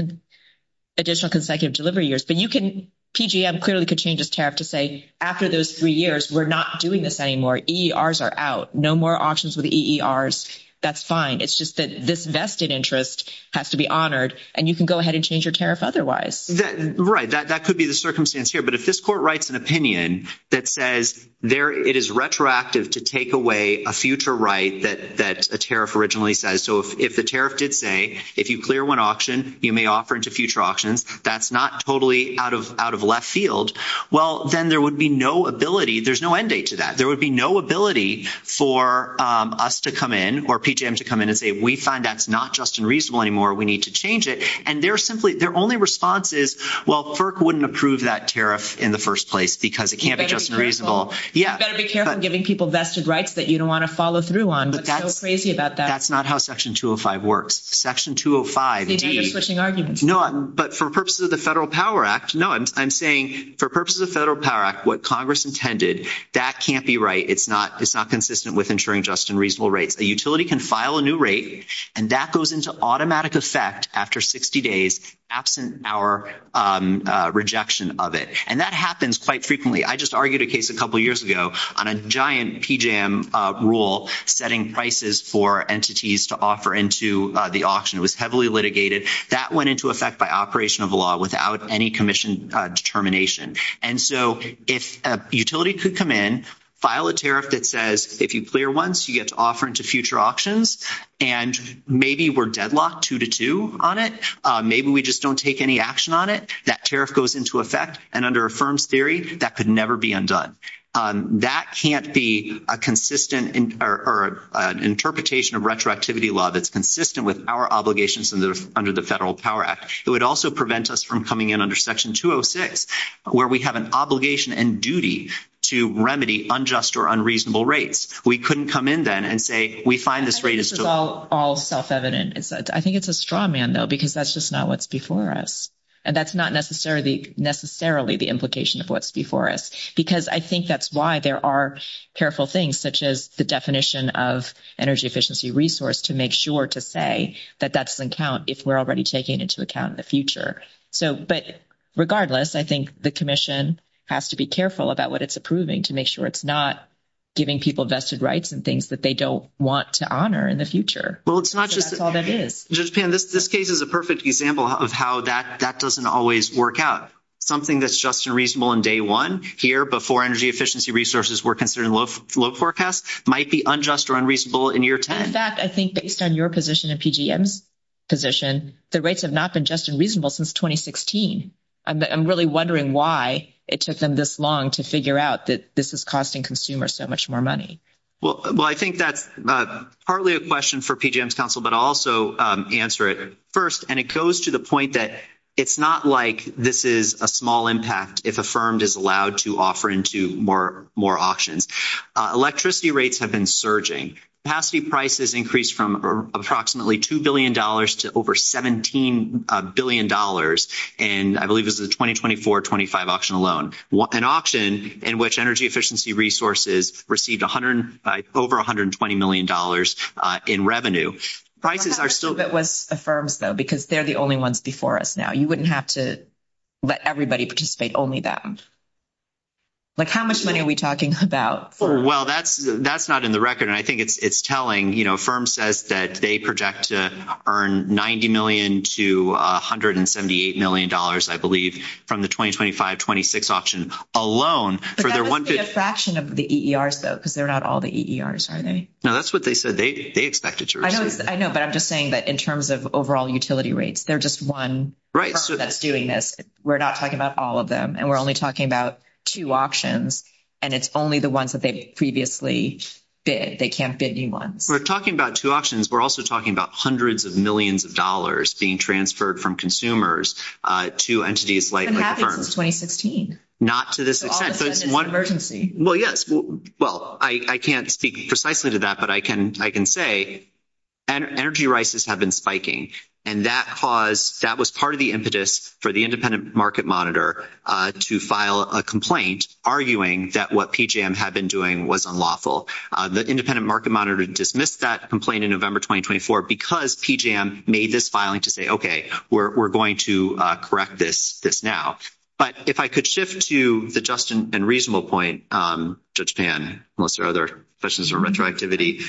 additional consecutive delivery years. But you can PJM clearly could change this tariff to say, after those three years, we're not doing this anymore. E. R's are out. No more options with E. R's. That's fine. It's just that this vested interest has to be honored and you can go ahead and change your tariff. Otherwise, right. That could be the circumstance here. But if this court writes an opinion that says there, it is retroactive to take away a future, right? That that's a tariff originally says. if the tariff did say, if you clear one option, you may offer into future options. That's not totally out of out of left field. then there would be no ability. There's no end date to that. There would be no ability for us to come in, or PJM to come in and say, we find that's not just unreasonable anymore. We need to change it. And they're simply their only response is, FERC wouldn't approve that tariff in the first place because it can't be just reasonable. Yeah, giving people vested rights that you don't want to follow through on. But that's crazy about that. That's not how section 205 works. Section 205. No, but for purposes of the Federal Power Act, no, I'm saying, for purposes of Federal Power Act, what Congress intended, that can't be right. It's not, it's not consistent with ensuring just and reasonable rates. A utility can file a new rate and that goes into automatic effect after 60 days, absent our rejection of it. And that happens quite frequently. I just argued a case a couple of years ago on a giant PJM rule, setting prices for entities to offer into the auction was heavily litigated. That went into effect by operation of law without any commission determination. And so if a utility could come in, file a tariff that says, if you clear once you get to offer into future auctions, and maybe we're deadlocked two to two on it. Maybe we just don't take any action on it. That tariff goes into effect. And under a firm's theory, that could never be undone. That can't be a consistent interpretation of retroactivity law. That's consistent with our obligations under the Federal Power Act. It would also prevent us from coming in under section 206, where we have an obligation and duty to remedy unjust or unreasonable rates. We couldn't come in then and say, we find this rate is all self-evident. I think it's a straw man though, because that's just not what's before us. And that's not necessarily the implication of what's before us, because I think that's why there are careful things, such as the definition of energy efficiency resource to make sure to say that that's an account if we're already taking it into account in the future. But regardless, I think the commission has to be careful about what it's approving to make sure it's not giving people vested rights and things that they don't want to honor in the future. That's all it is. This case is a perfect example of how that doesn't always work out. Something that's just and reasonable in day one, here before energy efficiency resources were considered low forecast, might be unjust or unreasonable in year 10. In fact, I think based on your position and PGM position, the rates have not been just unreasonable since 2016. I'm really wondering why it took them this long to figure out that this is costing consumers so much more money. Well, I think that's partly a question for PGM's counsel, but also answer it first. And it goes to the point that it's not like this is a small impact. If affirmed is allowed to offer into more, more auctions, electricity rates have been surging. Capacity prices increased from approximately $2 billion to over $17 billion. And I believe this is the 2024-25 auction alone. An auction in which energy efficiency resources received over $120 million in revenue. Prices are still. Affirms though, because they're the only ones before us now. You wouldn't have to let everybody participate only that. Like how much money are we talking about? Well, that's, that's not in the record. And I think it's, it's telling, you know, firm says that they project to earn 90 million to $178 million. I believe from the 2025-26 option alone for their one fraction of the ERs though, because they're not all the ERs. No, that's what they said. They expected to. I know, but I'm just saying that in terms of overall utility rates, they're just one. Right. So that's doing this. We're not talking about all of them and we're only talking about two options. And it's only the ones that they previously did. They can't bid anyone. We're talking about two options. We're also talking about hundreds of millions of dollars being transferred from consumers to entities like. Not to this extent. Well, yes. Well, I can't speak precisely to that, but I can, I can say. Energy rises have been spiking and that cause that was part of the impetus for the independent market monitor to file a complaint, arguing that what PJM had been doing was unlawful. The independent market monitor dismissed that complaint in November 2024 because PJM made this filing to say, okay, we're going to correct this now. But if I could shift to the just and reasonable point, Judge Pan, unless there are other questions or retroactivity.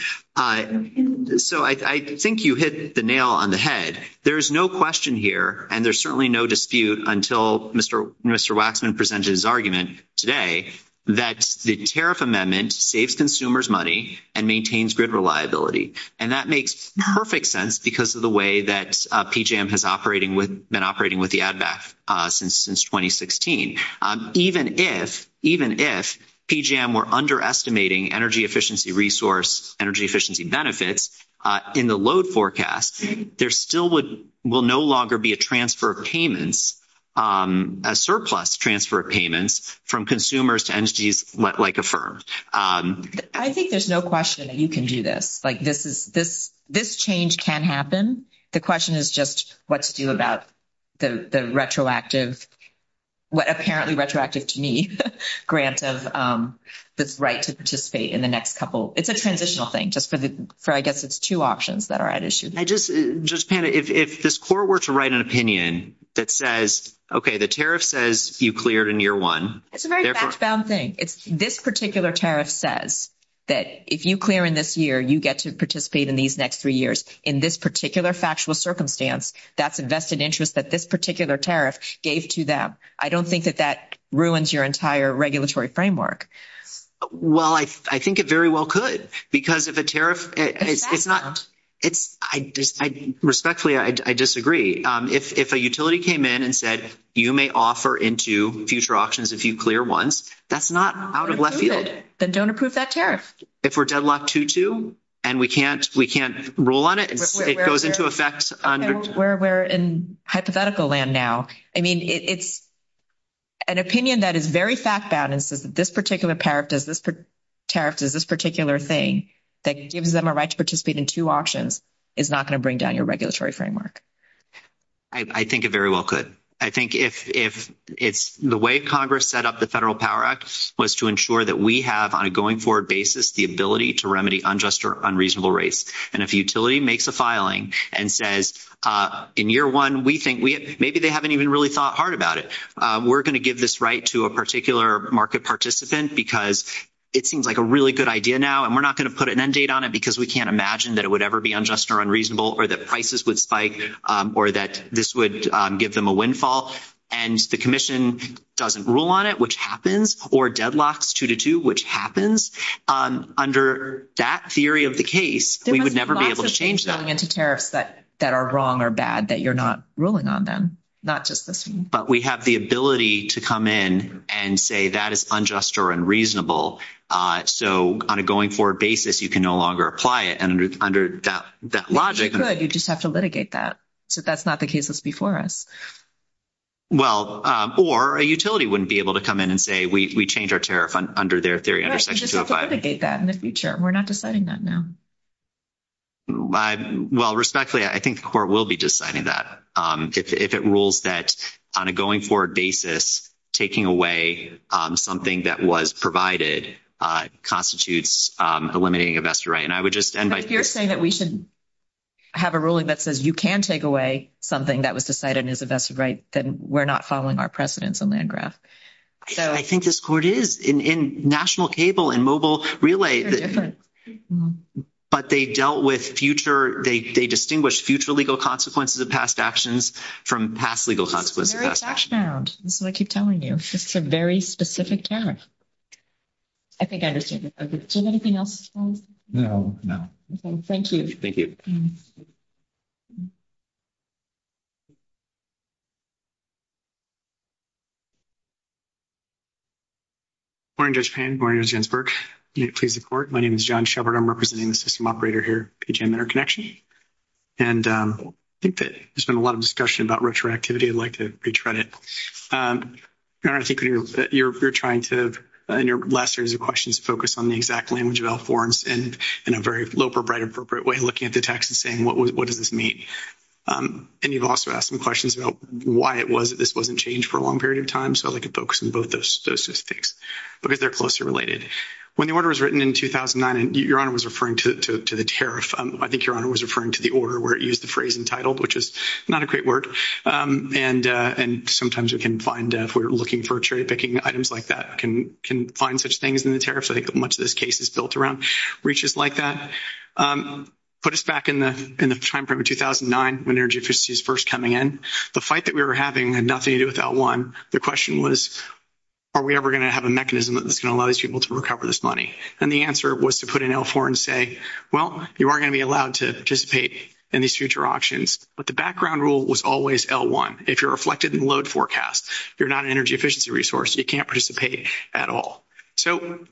So I think you hit the nail on the head. There is no question here. And there's certainly no dispute until Mr. Mr. Waxman presented his argument today that the tariff amendment saves consumers money and maintains grid reliability. And that makes perfect sense because of the way that PJM has operating with been operating with the ad back since, since 2016, even if, even if PJM were underestimating energy efficiency resource, energy efficiency benefits in the load forecast, there still would will no longer be a transfer of payments, a surplus transfer of payments from consumers to entities like a firm. I think there's no question that you can do this. Like this is this, this change can happen. The question is just what to do about the retroactive, what apparently retroactive to me grants of this right to participate in the next couple, it's a transitional thing just for the, for I guess it's two options that are at issue. I just, just kind of, if, if this court were to write an opinion that says, okay, the tariff says you cleared in year one. It's a very sound thing. It's this particular tariff says that if you clear in this year, you get to participate in these next three years in this particular factual circumstance, that's invested interest that this particular tariff gave to them. I don't think that that ruins your entire regulatory framework. Well, I, I think it very well could, because if a tariff, it's not, it's I respectfully, I disagree. If a utility came in and said, you may offer into future auctions. If you clear once that's not out of left field, then don't approve that tariff. If we're deadlocked to two and we can't, we can't rule on it. It goes into effect where we're in hypothetical land now. I mean, it's an opinion that is very fast bound. And so this particular pair of does this tariff is this particular thing that gives them a right to participate in two auctions is not going to bring down your regulatory framework. I think it very well could. I think if, if it's the way Congress set up the federal power act was to ensure that we have on a going forward basis, the ability to remedy unjust or unreasonable rates. And if utility makes a filing and says in year one, we think we, maybe they haven't even really thought hard about it. We're going to give this right to a particular market participant because it seems like a really good idea now. And we're not going to put an end date on it because we can't imagine that it would ever be unjust or unreasonable or that prices would spike or that this would give them a windfall. And the commission doesn't rule on it, which happens or deadlocks two to two, which happens under that theory of the case, we would never be able to change that. But that are wrong or bad that you're not ruling on them, not just the. But we have the ability to come in and say that is unjust or unreasonable. So on a going forward basis, you can no longer apply it. And under that logic, You just have to litigate that. So that's not the case that's before us. Well, or a utility wouldn't be able to come in and say we change our tariff under their theory. We're not deciding that now. Well, respectfully, I think the court will be deciding that. If it rules that on a going forward basis, taking away something that was provided constitutes eliminating investor. Right. And I would just end by saying that we should have a ruling that says you can take away something that was decided as a vested right. Then we're not following our precedents on that graph. So I think this court is in national cable and mobile relay, but they dealt with future. They distinguished future legal consequences of past actions from past legal consequences. That's what I keep telling you. It's a very specific tariff. I think I understand. Anything else? No, no. Okay. Thank you. Thank you. We're in Japan. Please report. My name is John Shepherd. I'm representing the system operator here in their connection. And I think that there's been a lot of discussion about retroactivity. I'd like to retread it. You're trying to in your last series of questions, focus on the exact language of all forms and in a very low for bright, appropriate way, looking at the text and saying, what does this mean? And you've also asked some questions about why it was that this wasn't changed for a long period of time. So I like to focus on both those systems because they're closely related. When the order was written in 2009 and your honor was referring to the tariff. I think your honor was referring to the order where it used the phrase entitled, which is not a great word. And and sometimes we can find if we're looking for a trade picking items like that can can find such things in the tariffs. I think that much of this case is built around reaches like that. Put us back in the in the timeframe of 2009 when energy efficiency is first coming in the fight that we were having and nothing to do with that one. The question was, are we ever going to have a mechanism that's going to allow us to be able to recover this money? And the answer was to put an L4 and say, well, you are going to be allowed to participate in these future auctions. But the background rule was always L1. If you're reflected in load forecast, you're not an energy efficiency resource. You can't participate at all. So.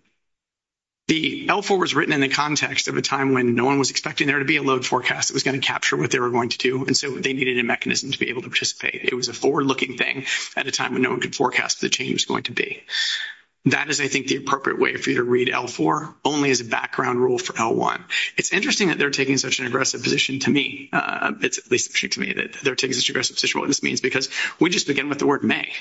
The L4 was written in the context of a time when no one was expecting there to be a load forecast that was going to capture what they were going to do. And so they needed a mechanism to be able to participate. It was a forward looking thing at a time when no one could forecast the change going to be. That is, I think, the appropriate way for you to read L4 only as a background rule for L1. It's interesting that they're taking such an aggressive position to me. It's at least true to me that they're taking this aggressive position, what this means, because we just begin with the word may.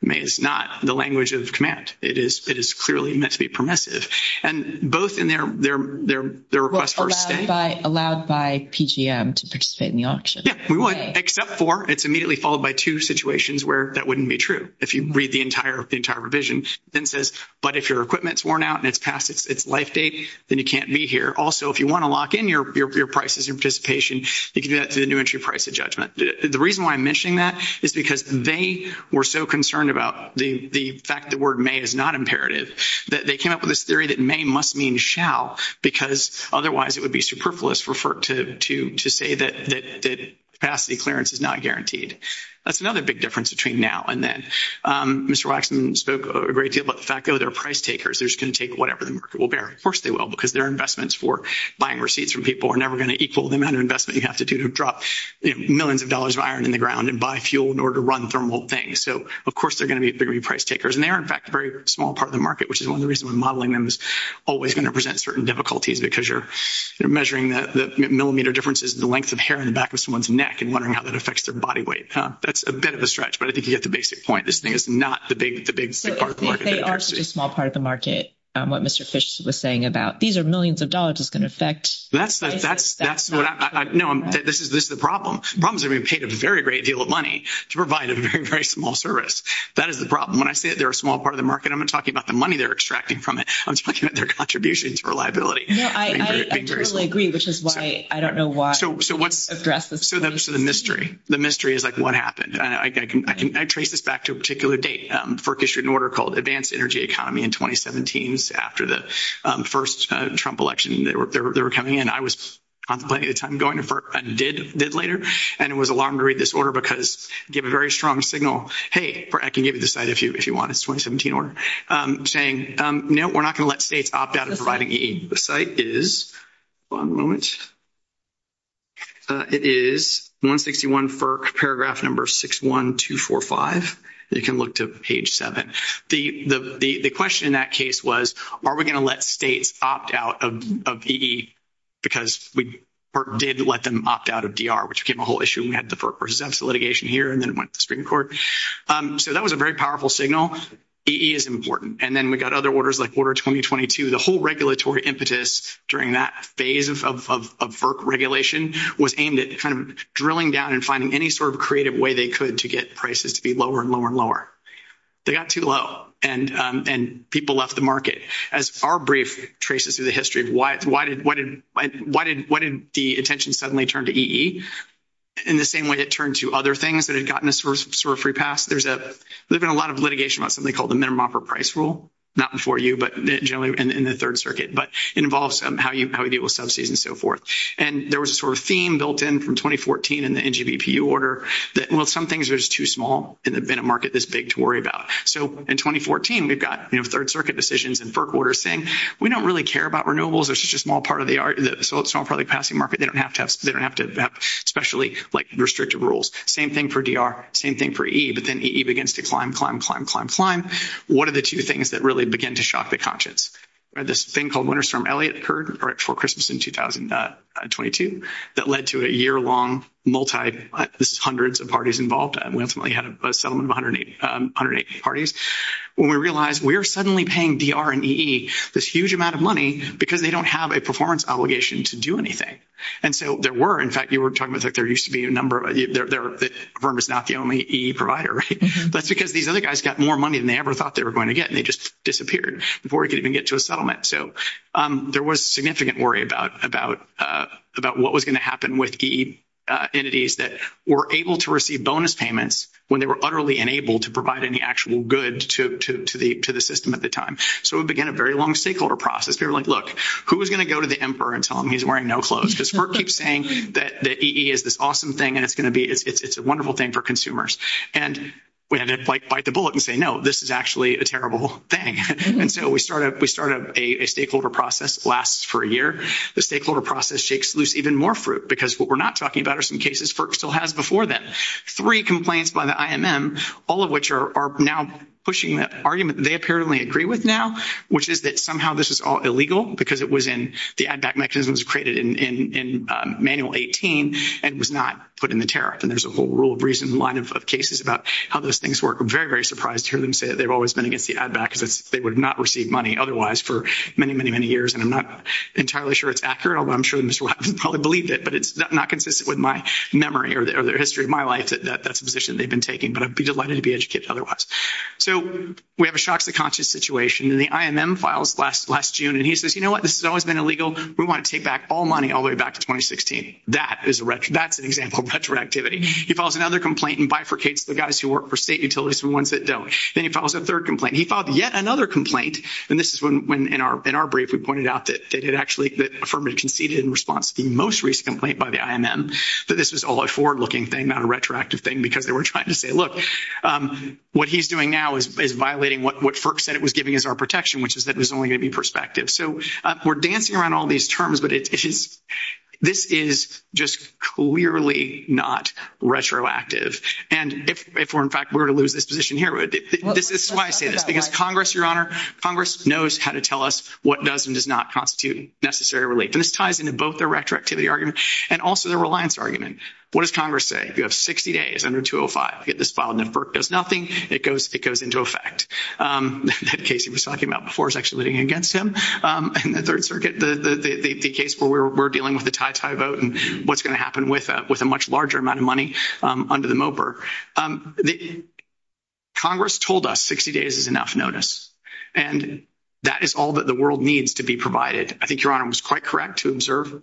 May is not the language of the command. It is. It is clearly meant to be permissive and both in their, their, their, their request for. Allowed by PGM to participate in the auction. Except for it's immediately followed by two situations where that may not be the case. And then says, but if your equipment's worn out and it's past, it's life date, then you can't be here. Also, if you want to lock in your, your, your prices and participation, you can do that to the new entry price of judgment. The reason why I'm mentioning that is because they were so concerned about the fact that the word may is not imperative that they came up with this theory that may must mean shall, because otherwise it would be superfluous for FERC to, to, to say that capacity clearance is not guaranteed. That's another big difference between now and then. Mr. Waxman spoke a great deal about the fact that they're price takers. They're just going to take whatever the market will bear. Of course they will, because their investments for buying receipts from people are never going to equal the amount of investment you have to do to drop millions of dollars of iron in the ground and buy fuel in order to run thermal things. So of course they're going to be very price takers. And they are in fact a very small part of the market, which is one of the reasons when modeling them is always going to present certain difficulties because you're measuring the millimeter differences, the length of hair in the back of someone's neck and wondering how that affects their body weight. That's a bit of a stretch, but I think you get the basic point. This thing is not the big, the big part of the market. They are such a small part of the market. What Mr. Fish was saying about these are millions of dollars is going to affect. That's, that's, that's what I know. This is, this is the problem. Problems are being paid a very great deal of money to provide a very, very small service. That is the problem. When I say that they're a small part of the market, I'm going to talk about the money they're extracting from it. I'm talking about their contributions to reliability. I totally agree, which is why I don't know why. So what's the mystery? The mystery is like, what happened? I traced this back to a particular date. FERC issued an order called Advanced Energy Economy in 2017 after the first Trump election. They were, they were, they were coming in. I was on plenty of time going to FERC and did, did later. And it was alarming to read this order because you have a very strong signal. Hey, I can give you the site if you, if you want. It's 2017 or saying, no, we're not going to let states opt out of providing the site is one moment. It is one 61 FERC paragraph number six, one, two, four, And you can look to page seven. The, the, the, the question in that case was, are we going to let states opt out of EE? Because we did let them opt out of DR, which became a whole issue. We had the FERC residential litigation here and then went to the Supreme Court. So that was a very powerful signal. EE is important. And then we got other orders like order 2022, the whole regulatory impetus during that phase of, of, of FERC regulation was aimed at kind of drilling down and finding any sort of creative way they could to get prices to be lower and lower and They got too low. And, and people left the market as our brief traces of the history. Why, why did, why did, why did, why did the attention suddenly turned to EE in the same way that turned to other things that had gotten this sort of free pass. There's a, there've been a lot of litigation about something called the minimum offer price rule, not before you, but generally in the third circuit, but it involves how you, how you deal with subsidies and so forth. And there was a sort of theme built in from 2014 and the NGVP order that well, some things were just too small. And there'd been a market that's big to worry about. So in 2014, we've got, you know, third circuit decisions and FERC orders thing. We don't really care about renewables. They're such a small part of the art. So it's all probably passing market. They don't have tests. They don't have to have specially like restrictive rules. Same thing for DR, same thing for EE. But then EE begins to climb, climb, climb, climb, climb. What are the two things that really begin to shock the conscience? This thing called winter storm Elliot occurred right before Christmas in 2022 that led to a year long multi, this is hundreds of parties involved. And we ultimately had a settlement of 180, 180 parties. When we realized we are suddenly paying DR and EE this huge amount of money because they don't have a performance obligation to do anything. And so there were, in fact, you were talking about, there used to be a number of, VRM is not the only EE provider. That's because these other guys got more money than they ever thought they were going to get. And they just disappeared before we could even get to a settlement. So there was significant worry about what was going to happen with EE entities that were able to receive bonus payments when they were utterly unable to provide any actual good to the system at the time. So it began a very long stakeholder process. They were like, look, who is going to go to the emperor and tell him he's wearing no clothes? Because FERC keeps saying that EE is this awesome thing and it's going to be, it's a wonderful thing for consumers. And we had to bite the bullet and say, no, this is actually a terrible thing. And so we started a stakeholder process, lasts for a year. The stakeholder process shakes loose even more fruit because what we're not talking about are some cases FERC still has before them. Three complaints by the IMM, all of which are now pushing an argument they apparently agree with now, which is that somehow this is all illegal because it was in the ADVAC mechanisms created in Manual 18 and was not put in the tariff. And there's a whole rule of reason line of cases about how those things work. I'm very, very surprised to hear them say that they've always been against the ADVAC because they would not receive money otherwise for many, many, many years. And I'm not entirely sure it's accurate, although I'm sure they probably believe it, but it's not consistent with my memory or the history of my life that that's the position they've been taking. But I'd be delighted to be educated otherwise. So we have a shock to the conscience situation. The IMM files last June, and he says, you know what, this has always been illegal. We want to take back all money all the way back to 2016. That's an example of retroactivity. He files another complaint and bifurcates the guys who work for state utilities and the ones that don't. Then he files a third complaint. He filed yet another complaint, and this is when in our brief we pointed out that actually the firm had conceded in response to the most recent complaint by the IMM that this is all a forward-looking thing, not a retroactive thing, because they were trying to say, look, what he's doing now is violating what FERC said it was giving us our protection, which is that it was only going to be prospective. So we're dancing around all these terms, but this is just clearly not retroactive. And if, in fact, we were to lose this position here, this is why I say this, because Congress, Your Honor, Congress knows how to tell us what does and does not constitute necessary relief. And this ties into both the retroactivity argument and also the reliance argument. What does Congress say? If you have 60 days under 205 to get this filed and FERC does nothing, it goes into effect. That case you were talking about before is actually living against him. In the Third Circuit, the case where we're dealing with the tie-tie vote and what's going to happen with a much larger amount of money under the MOPR, Congress told us 60 days is enough notice, and that is all that the world needs to be provided. I think Your Honor was quite correct to observe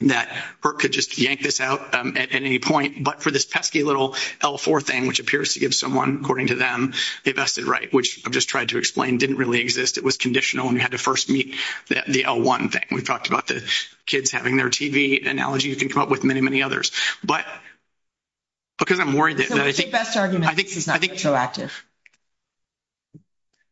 that FERC could just yank this out at any point. But for this pesky little L-4 thing, which appears to give someone, according to them, the vested right, which I've just tried to explain didn't really exist. It was conditional, and we had to first meet the L-1 thing. We've talked about the kids having their TV analogy. You can come up with many, many others. But because I'm worried that— The best argument is not retroactive.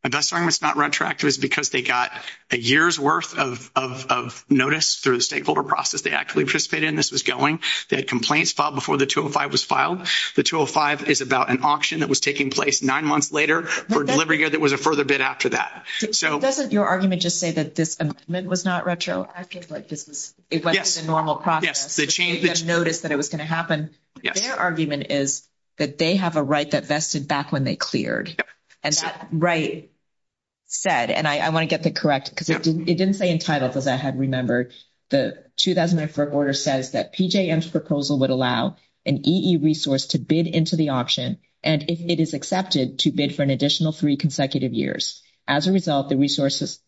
The best argument is not retroactive is because they got a year's worth of notice through the stakeholder process they actually participated in this was going. They had complaints filed before the 205 was filed. The 205 is about an auction that was taking place nine months later for a delivery year that was a further bid after that. So— Doesn't your argument just say that this amendment was not retroactive? Like, this is— Yes. It wasn't a normal process. Yes, the change is— They didn't notice that it was going to happen. Yes. Their argument is that they have a right that vested back when they cleared. And that right said—and I want to get that correct because it didn't say entitled, because I had remembered. The 2004 order says that PJM's proposal would allow an EE resource to bid into the auction, and if it is accepted, to bid for an additional three consecutive years. As a result, the resource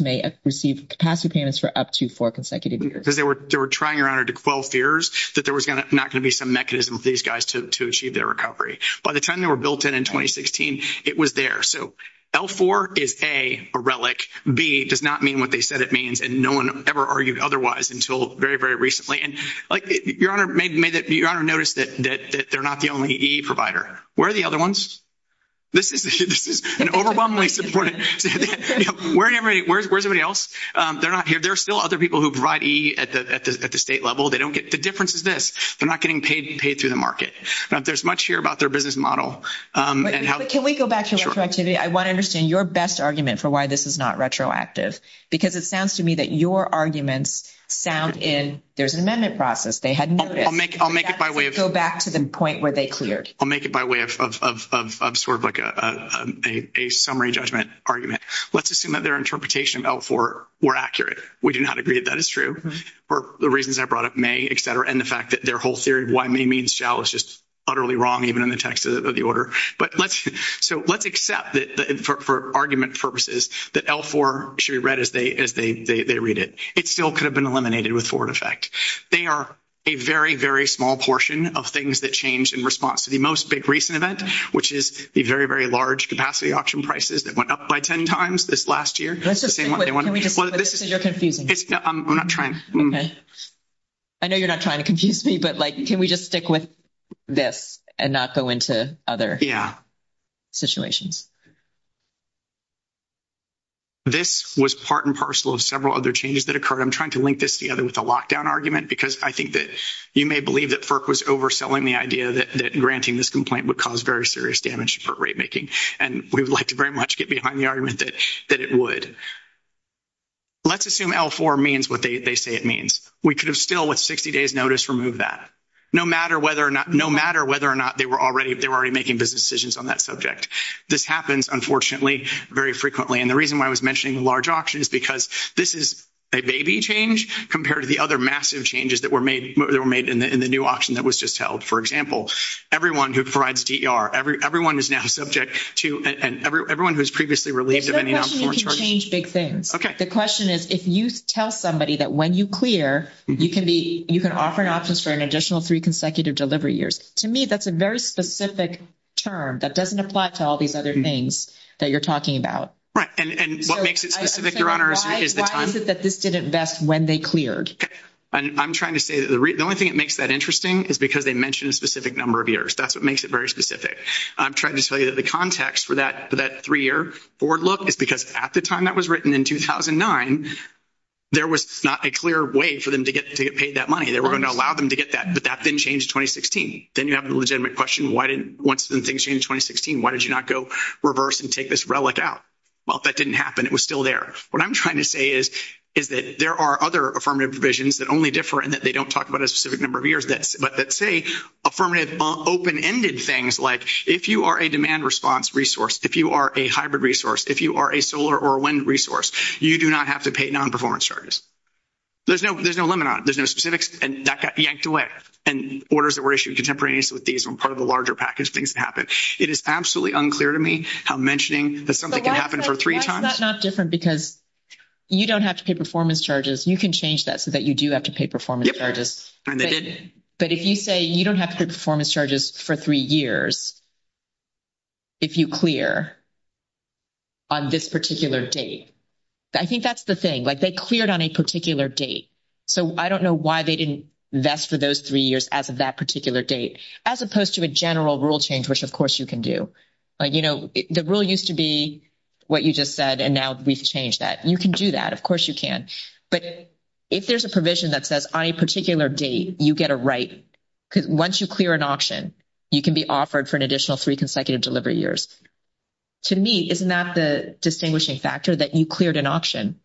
may receive capacity payments for up to four consecutive years. They were trying, Your Honor, to quell fears that there was not going to be some mechanism for these guys to achieve their recovery. By the time they were built in in 2016, it was there. So L4 is, A, a relic. B, it does not mean what they said it means, and no one ever argued otherwise until very, very recently. And, like, Your Honor noticed that they're not the only EE provider. Where are the other ones? This is an overwhelmingly important— Where's everybody else? They're not here. There are still other people who provide EE at the state level. They don't get—the difference is this. They're not getting paid through the market. There's much here about their business model and how— But can we go back to retroactivity? I want to understand your best argument for why this is not retroactive, because it sounds to me that your arguments sound in—there's an amendment process. They had no— I'll make it by way of— Go back to the point where they cleared. I'll make it by way of sort of like a summary judgment argument. Let's assume that their interpretation of L4 were accurate. We do not agree that that is true for the reasons I brought up, may, et cetera, and the fact that their whole theory of why may means shall is just utterly wrong, even in the text of the order. But let's—so let's accept that, for argument purposes, that L4 should be read as they read it. It still could have been eliminated with forward effect. They are a very, very small portion of things that changed in response to the most big recent event, which is the very, very large capacity auction prices that went up by 10 times this last year. Can we just— You're confusing. I'm not trying. Okay. I know you're not trying to confuse me, but, like, can we just stick with this and not go into other situations? Yeah. This was part and parcel of several other changes that occurred. I'm trying to link this together with the lockdown argument, because I think that you may believe that FERC was overselling the idea that granting this complaint would cause very serious damage for rate making, and we would like to very much get behind the argument that it would. Let's assume L4 means what they say it means. We could have still, with 60 days' notice, removed that, no matter whether or not they were already making business decisions on that subject. This happens, unfortunately, very frequently, and the reason why I was mentioning the large auction is because this is a baby change compared to the other massive changes that were made in the new auction that was just held. For example, everyone who provides DER, everyone who is now subject to and everyone who was previously relieved of any of that. It's not a question you can change big things. Okay. The question is if you tell somebody that when you clear, you can offer an option for an additional three consecutive delivery years. To me, that's a very specific term that doesn't apply to all these other things that you're talking about. Right. And what makes it specific, Your Honor? Why is it that this didn't vest when they cleared? I'm trying to say that the only thing that makes that interesting is because they mention a specific number of years. That's what makes it very specific. I'm trying to tell you that the context for that three-year forward look is because at the time that was written in 2009, there was not a clear way for them to get paid that money. They were going to allow them to get that, but that didn't change in 2016. Then you have the legitimate question, once things changed in 2016, why did you not go reverse and take this relic out? Well, that didn't happen. It was still there. What I'm trying to say is that there are other affirmative provisions that only differ in that they don't talk about a specific number of years, but that say affirmative open-ended things like if you are a demand response resource, if you are a hybrid resource, if you are a solar or wind resource, you do not have to pay non-performance charges. There's no limit on it. There's no specifics, and that got yanked away. And orders that were issued contemporaneously with these and part of a larger package of things that happened. It is absolutely unclear to me how mentioning that something can happen for three times is not different because you don't have to pay performance charges. You can change that so that you do have to pay performance charges. But if you say you don't have to pay performance charges for three years if you clear on this particular date, I think that's the thing. Like they cleared on a particular date, so I don't know why they didn't vest for those three years as of that particular date, as opposed to a general rule change, which, of course, you can do. The rule used to be what you just said, and now we've changed that. You can do that. Of course you can. But if there's a provision that says on a particular date you get a right, because once you clear an option, you can be offered for an additional three consecutive delivery years. To me, isn't that the distinguishing factor that you cleared an option?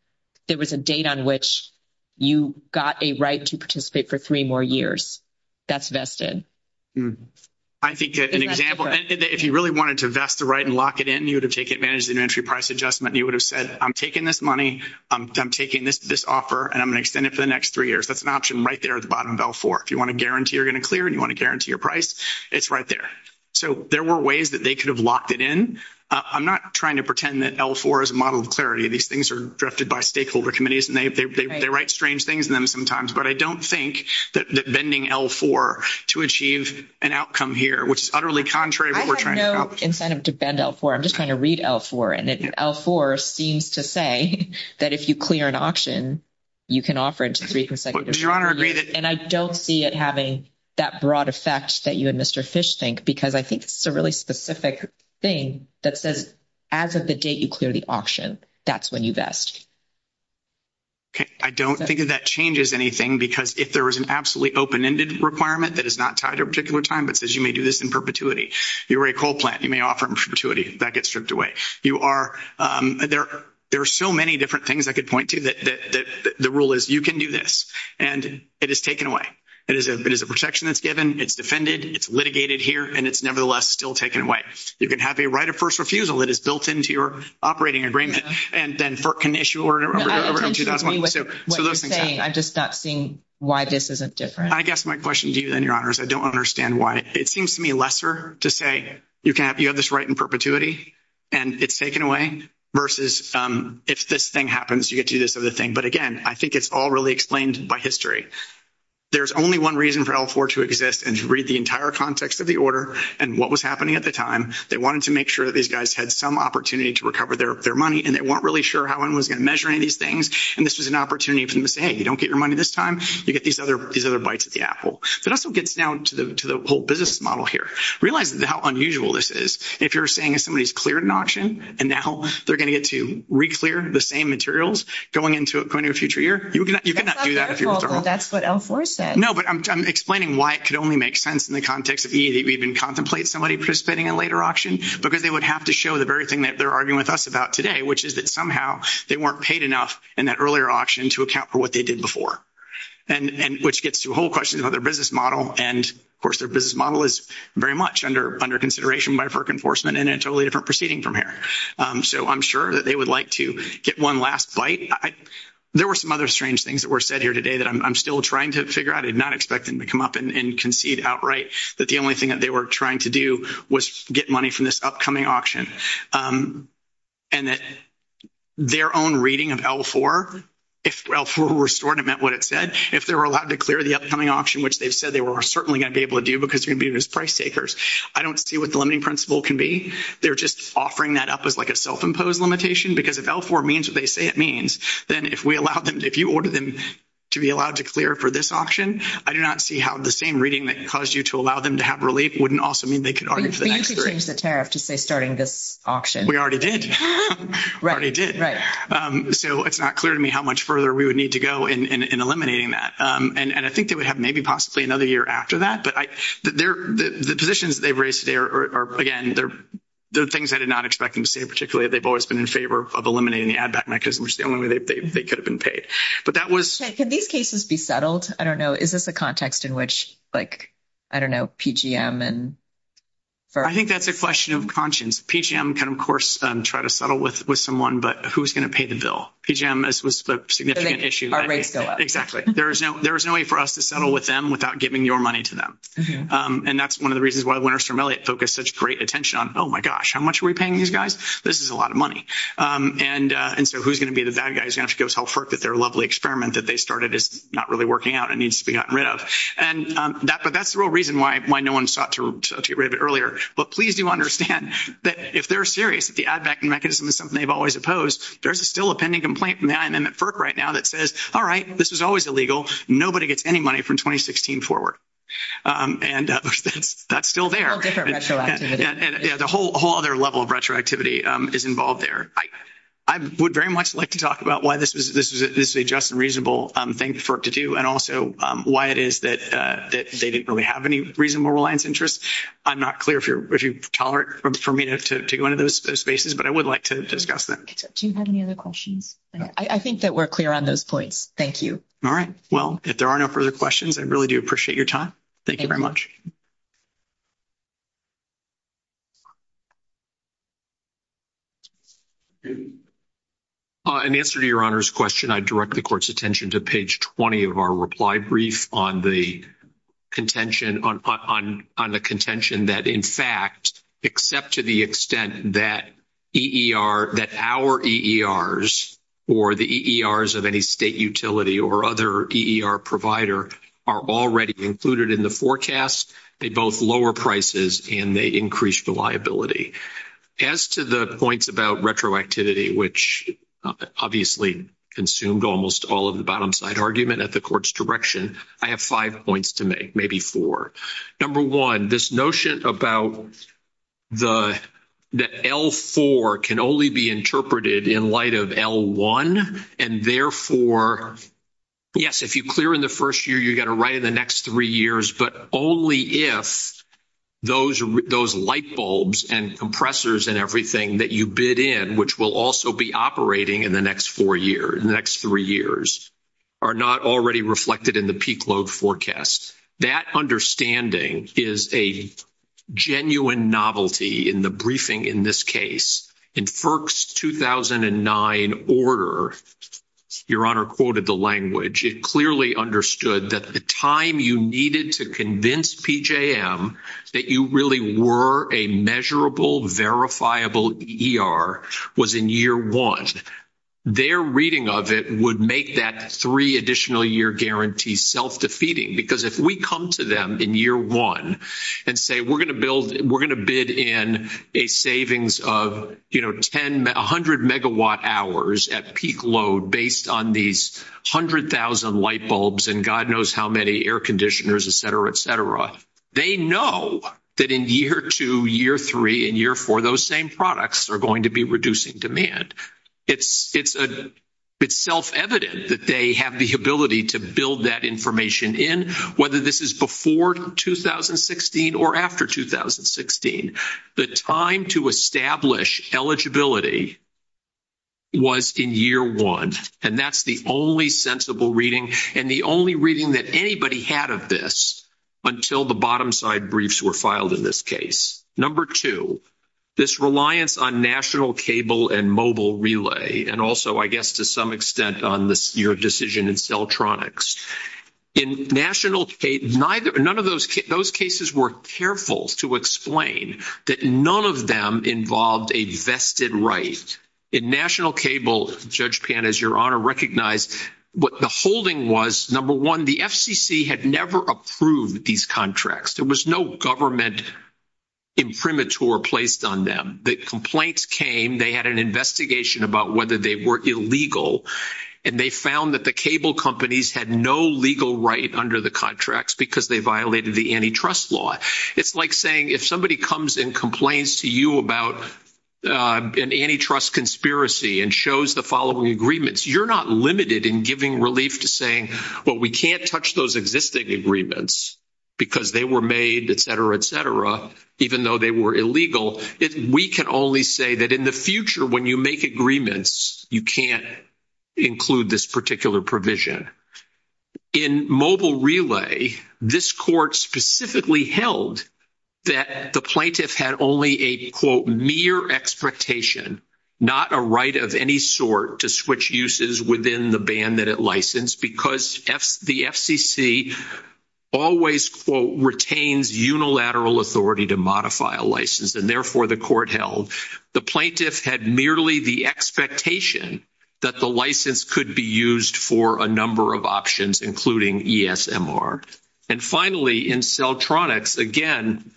It was a date on which you got a right to participate for three more years. That's vested. I think an example, if you really wanted to vest the right and lock it in, you would have taken advantage of the inventory price adjustment. You would have said, I'm taking this money, I'm taking this offer, and I'm going to extend it for the next three years. That's an option right there at the bottom of L4. If you want to guarantee you're going to clear and you want to guarantee your price, it's right there. So there were ways that they could have locked it in. I'm not trying to pretend that L4 is a model of clarity. These things are drafted by stakeholder committees, and they write strange things in them sometimes. But I don't think that bending L4 to achieve an outcome here, which is utterly contrary to what we're trying to accomplish. Instead of to bend L4, I'm just trying to read L4. And L4 seems to say that if you clear an option, you can offer it to three consecutive delivery years. And I don't see it having that broad effect that you and Mr. Fish think, because I think it's a really specific thing that says, as of the date you clear the option, that's when you vest. Okay. I don't think that changes anything, because if there is an absolutely open-ended requirement that is not tied to a particular time, it says you may do this in perpetuity. You're a coal plant. You may offer it in perpetuity. That gets stripped away. There are so many different things I could point to. The rule is you can do this, and it is taken away. It is a protection that's given. It's defended. It's litigated here, and it's nevertheless still taken away. You can have a right of first refusal. It is built into your operating agreement. And then can issue an order in 2001. What you're saying, I'm just not seeing why this is different. I guess my question to you, then, Your Honors, I don't understand why. It seems to me lesser to say you have this right in perpetuity, and it's taken away, versus if this thing happens you get to do this other thing. But, again, I think it's all really explained by history. There's only one reason for L4 to exist, and to read the entire context of the order and what was happening at the time. They wanted to make sure that these guys had some opportunity to recover their money, and they weren't really sure how anyone was going to measure any of these things. And this was an opportunity for them to say, hey, you don't get your money this time. You get these other bites of the apple. It also gets down to the whole business model here. Realize how unusual this is. If you're saying somebody's cleared an auction, and now they're going to get to re-clear the same materials going into a future year, you cannot do that if you're a firm. Well, that's what L4 says. No, but I'm explaining why it could only make sense in the context if you even contemplate somebody participating in a later auction, because they would have to show the very thing that they're arguing with us about today, which is that somehow they weren't paid enough in that earlier auction to account for what they did before, which gets to a whole question about their business model. And, of course, their business model is very much under consideration by FERC enforcement, and a totally different proceeding from here. So I'm sure that they would like to get one last bite. There were some other strange things that were said here today that I'm still trying to figure out. I'm not expecting to come up and concede outright that the only thing that they were trying to do was get money from this upcoming auction, and that their own reading of L4, if L4 were restored, it meant what it said. If they were allowed to clear the upcoming auction, which they said they were certainly going to be able to do because you're going to be those price takers, I don't see what the limiting principle can be. They're just offering that up as like a self-imposed limitation, because if L4 means what they say it means, then if you order them to be allowed to clear for this auction, I do not see how the same reading that caused you to allow them to have relief wouldn't also mean they could argue for the next auction. We need to change the tariff to say starting this auction. We already did. Right. We already did. Right. So it's not clear to me how much further we would need to go in eliminating that. And I think they would have maybe possibly another year after that. But the positions they've raised today are, again, they're things I did not expect them to say in particular. They've always been in favor of eliminating the ad back mechanism, which is the only way they could have been paid. But that was... Can these cases be settled? I don't know. Is this a context in which, like, I don't know, PGM and... I think that's a question of conscience. PGM can, of course, try to settle with someone, but who's going to pay the bill? PGM is the significant issue. Our rates go up. Exactly. There is no way for us to settle with them without giving your money to them. And that's one of the reasons why the winners from Elliott focused such great attention on, oh, my gosh, how much are we paying these guys? This is a lot of money. And so who's going to be the bad guy who's going to have to go tell FERC that their lovely experiment that they started is not really working out and needs to be gotten rid of? And that's the real reason why no one sought to get rid of it earlier. But please do understand that if they're serious that the ad backing mechanism is something they've always opposed, there's still a pending complaint from the NIM and FERC right now that says, all right, this is always illegal. Nobody gets any money from 2016 forward. And that's still there. All right. Yeah, the whole other level of retroactivity is involved there. I would very much like to talk about why this is a just and reasonable thing for it to do and also why it is that they didn't really have any reasonable reliance interest. I'm not clear if you're tolerant for me to go into those spaces, but I would like to discuss that. Do you have any other questions? I think that we're clear on those points. Thank you. All right. Well, if there are no further questions, I really do appreciate your time. Thank you very much. In answer to Your Honor's question, I direct the court's attention to page 20 of our reply brief on the contention that, in fact, except to the extent that our EERs or the EERs of any state utility or other EER provider are already included in the forecast, they both lower prices and they increase reliability. As to the points about retroactivity, which obviously consumed almost all of the bottom side argument at the court's direction, I have five points to make, maybe four. Number one, this notion about the L4 can only be interpreted in light of L1, and therefore, yes, if you clear in the first year, you've got to write in the next three years, but only if those light bulbs and compressors and everything that you bid in, which will also be operating in the next four years, in the next three years, are not already reflected in the peak load forecast. That understanding is a genuine novelty in the briefing in this case. In FERC's 2009 order, Your Honor quoted the language. It clearly understood that the time you needed to convince PJM that you really were a measurable, verifiable EER was in year one. Their reading of it would make that three additional year guarantee self-defeating because if we come to them in year one and say we're going to bid in a savings of 100 megawatt hours at peak load based on these 100,000 light bulbs and God knows how many air conditioners, et cetera, et cetera, they know that in year two, year three, and year four, those same products are going to be reducing demand. It's self-evident that they have the ability to build that information in, whether this is before 2016 or after 2016. The time to establish eligibility was in year one, and that's the only sensible reading and the only reading that anybody had of this until the bottom side briefs were filed in this case. Number two, this reliance on national cable and mobile relay, and also, I guess, to some extent on this year of decision in celltronics. In national cable, none of those cases were careful to explain that none of them involved a vested right. In national cable, Judge Pan, as your Honor recognized, what the holding was, number one, the FCC had never approved these contracts. There was no government imprimatur placed on them. The complaints came. They had an investigation about whether they were illegal, and they found that the cable companies had no legal right under the contracts because they violated the antitrust law. It's like saying if somebody comes and complains to you about an antitrust conspiracy and shows the following agreements, you're not limited in giving relief to saying, well, we can't touch those existing agreements because they were made, et cetera, et cetera, even though they were illegal. We can only say that in the future when you make agreements, you can't include this particular provision. In mobile relay, this court specifically held that the plaintiff had only a, quote, mere expectation, not a right of any sort to switch uses within the band that it licensed because the FCC always, quote, retains unilateral authority to modify a license, and therefore the court held the plaintiff had merely the expectation that the license could be used for a number of options, including ESMR. And finally, in Celtronics, again,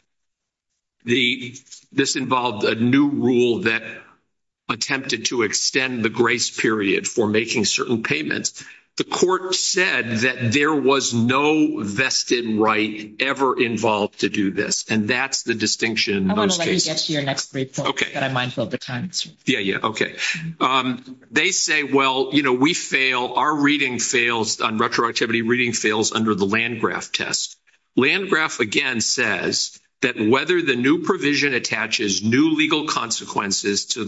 this involved a new rule that attempted to extend the grace period for making certain payments. The court said that there was no vested right ever involved to do this, and that's the distinction in those cases. Okay. Yeah, yeah, okay. They say, well, you know, we fail, our reading fails on retroactivity, reading fails under the Landgraf test. Landgraf, again, says that whether the new provision attaches new legal consequences to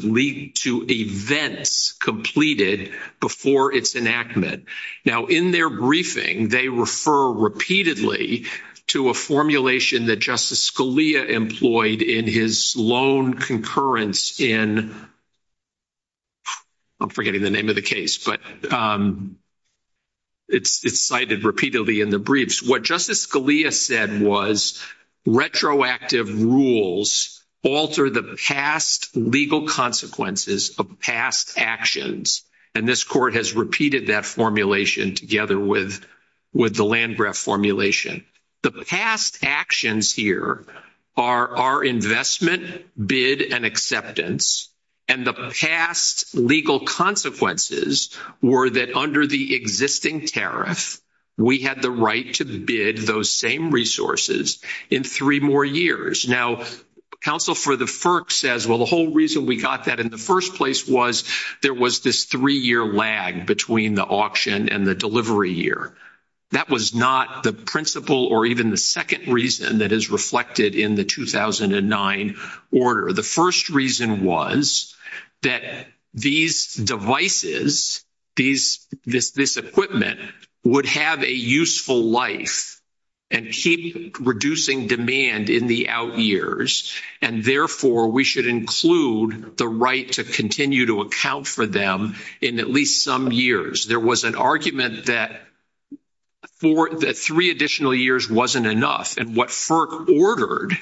events completed before its enactment. Now, in their briefing, they refer repeatedly to a formulation that Justice Scalia's own concurrence in, I'm forgetting the name of the case, but it's cited repeatedly in the briefs. What Justice Scalia said was retroactive rules alter the past legal consequences of past actions, and this court has repeated that formulation together with the Landgraf formulation. The past actions here are our investment, bid, and acceptance, and the past legal consequences were that under the existing tariff, we had the right to bid those same resources in three more years. Now, counsel for the FERC says, well, the whole reason we got that in the first place was there was this three-year lag between the auction and the delivery year. That was not the principle or even the second reason that is reflected in the 2009 order. The first reason was that these devices, this equipment, would have a useful life and keep reducing demand in the out years, and therefore, we should include the right to continue to account for them in at least some years. There was an argument that three additional years wasn't enough, and what FERC ordered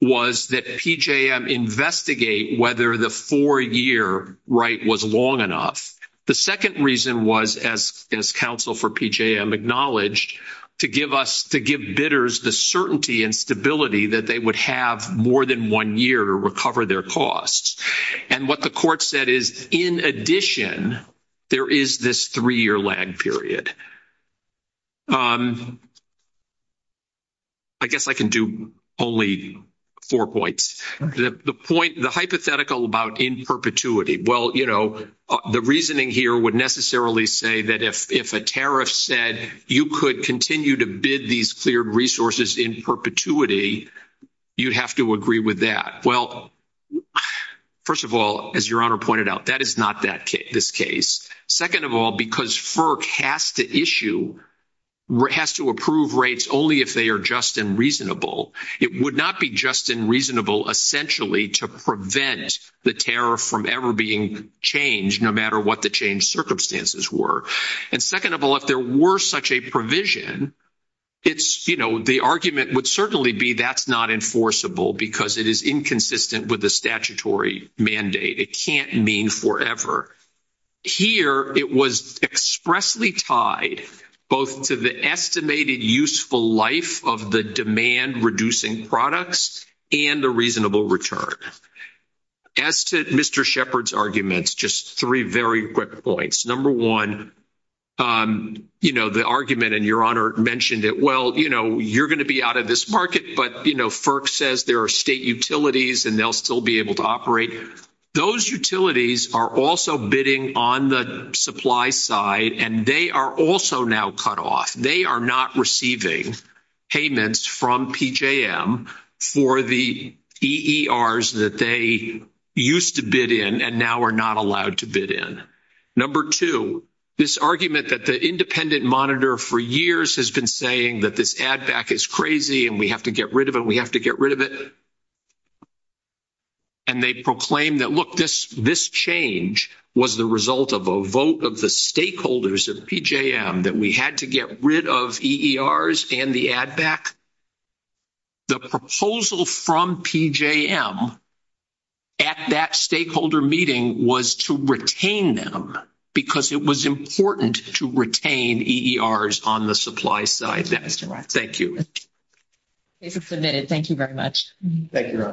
was that PJM investigate whether the four-year right was long enough. The second reason was, as counsel for PJM acknowledged, to give bidders the certainty and stability that they would have more than one year to recover their costs. And what the court said is, in addition, there is this three-year lag period. I guess I can do only four points. The point, the hypothetical about in perpetuity, well, you know, the reasoning here would necessarily say that if a tariff said you could continue to bid these cleared resources in perpetuity, you have to agree with that. Well, first of all, as Your Honor pointed out, that is not this case. Second of all, because FERC has to issue, has to approve rates only if they are just and reasonable, it would not be just and reasonable essentially to prevent the tariff from ever being changed, no matter what the change circumstances were. And second of all, if there were such a provision, it's, you know, the argument would certainly be that's not enforceable because it is inconsistent with the statutory mandate. It can't mean forever. Here, it was expressly tied both to the estimated useful life of the demand-reducing products and the reasonable return. As to Mr. Shepard's arguments, just three very quick points. Number one, you know, the argument, and Your Honor mentioned it, well, you know, you're going to be out of this market, but, you know, FERC says there are state utilities and they'll still be able to operate. Those utilities are also bidding on the supply side, and they are also now cut off. They are not receiving payments from PJM for the EERs that they used to bid in and now are not allowed to bid in. Number two, this argument that the independent monitor for years has been saying that this ADVAC is crazy and we have to get rid of it, we have to get rid of it, and they proclaim that, look, this change was the result of a vote of the stakeholders of PJM that we had to get rid of EERs and the ADVAC, the proposal from PJM at that stakeholder meeting was to retain them because it was important to retain EERs on the supply side. Thank you. Thank you so much. Thank you so much. This is a minute. Thank you very much. Thank you very much.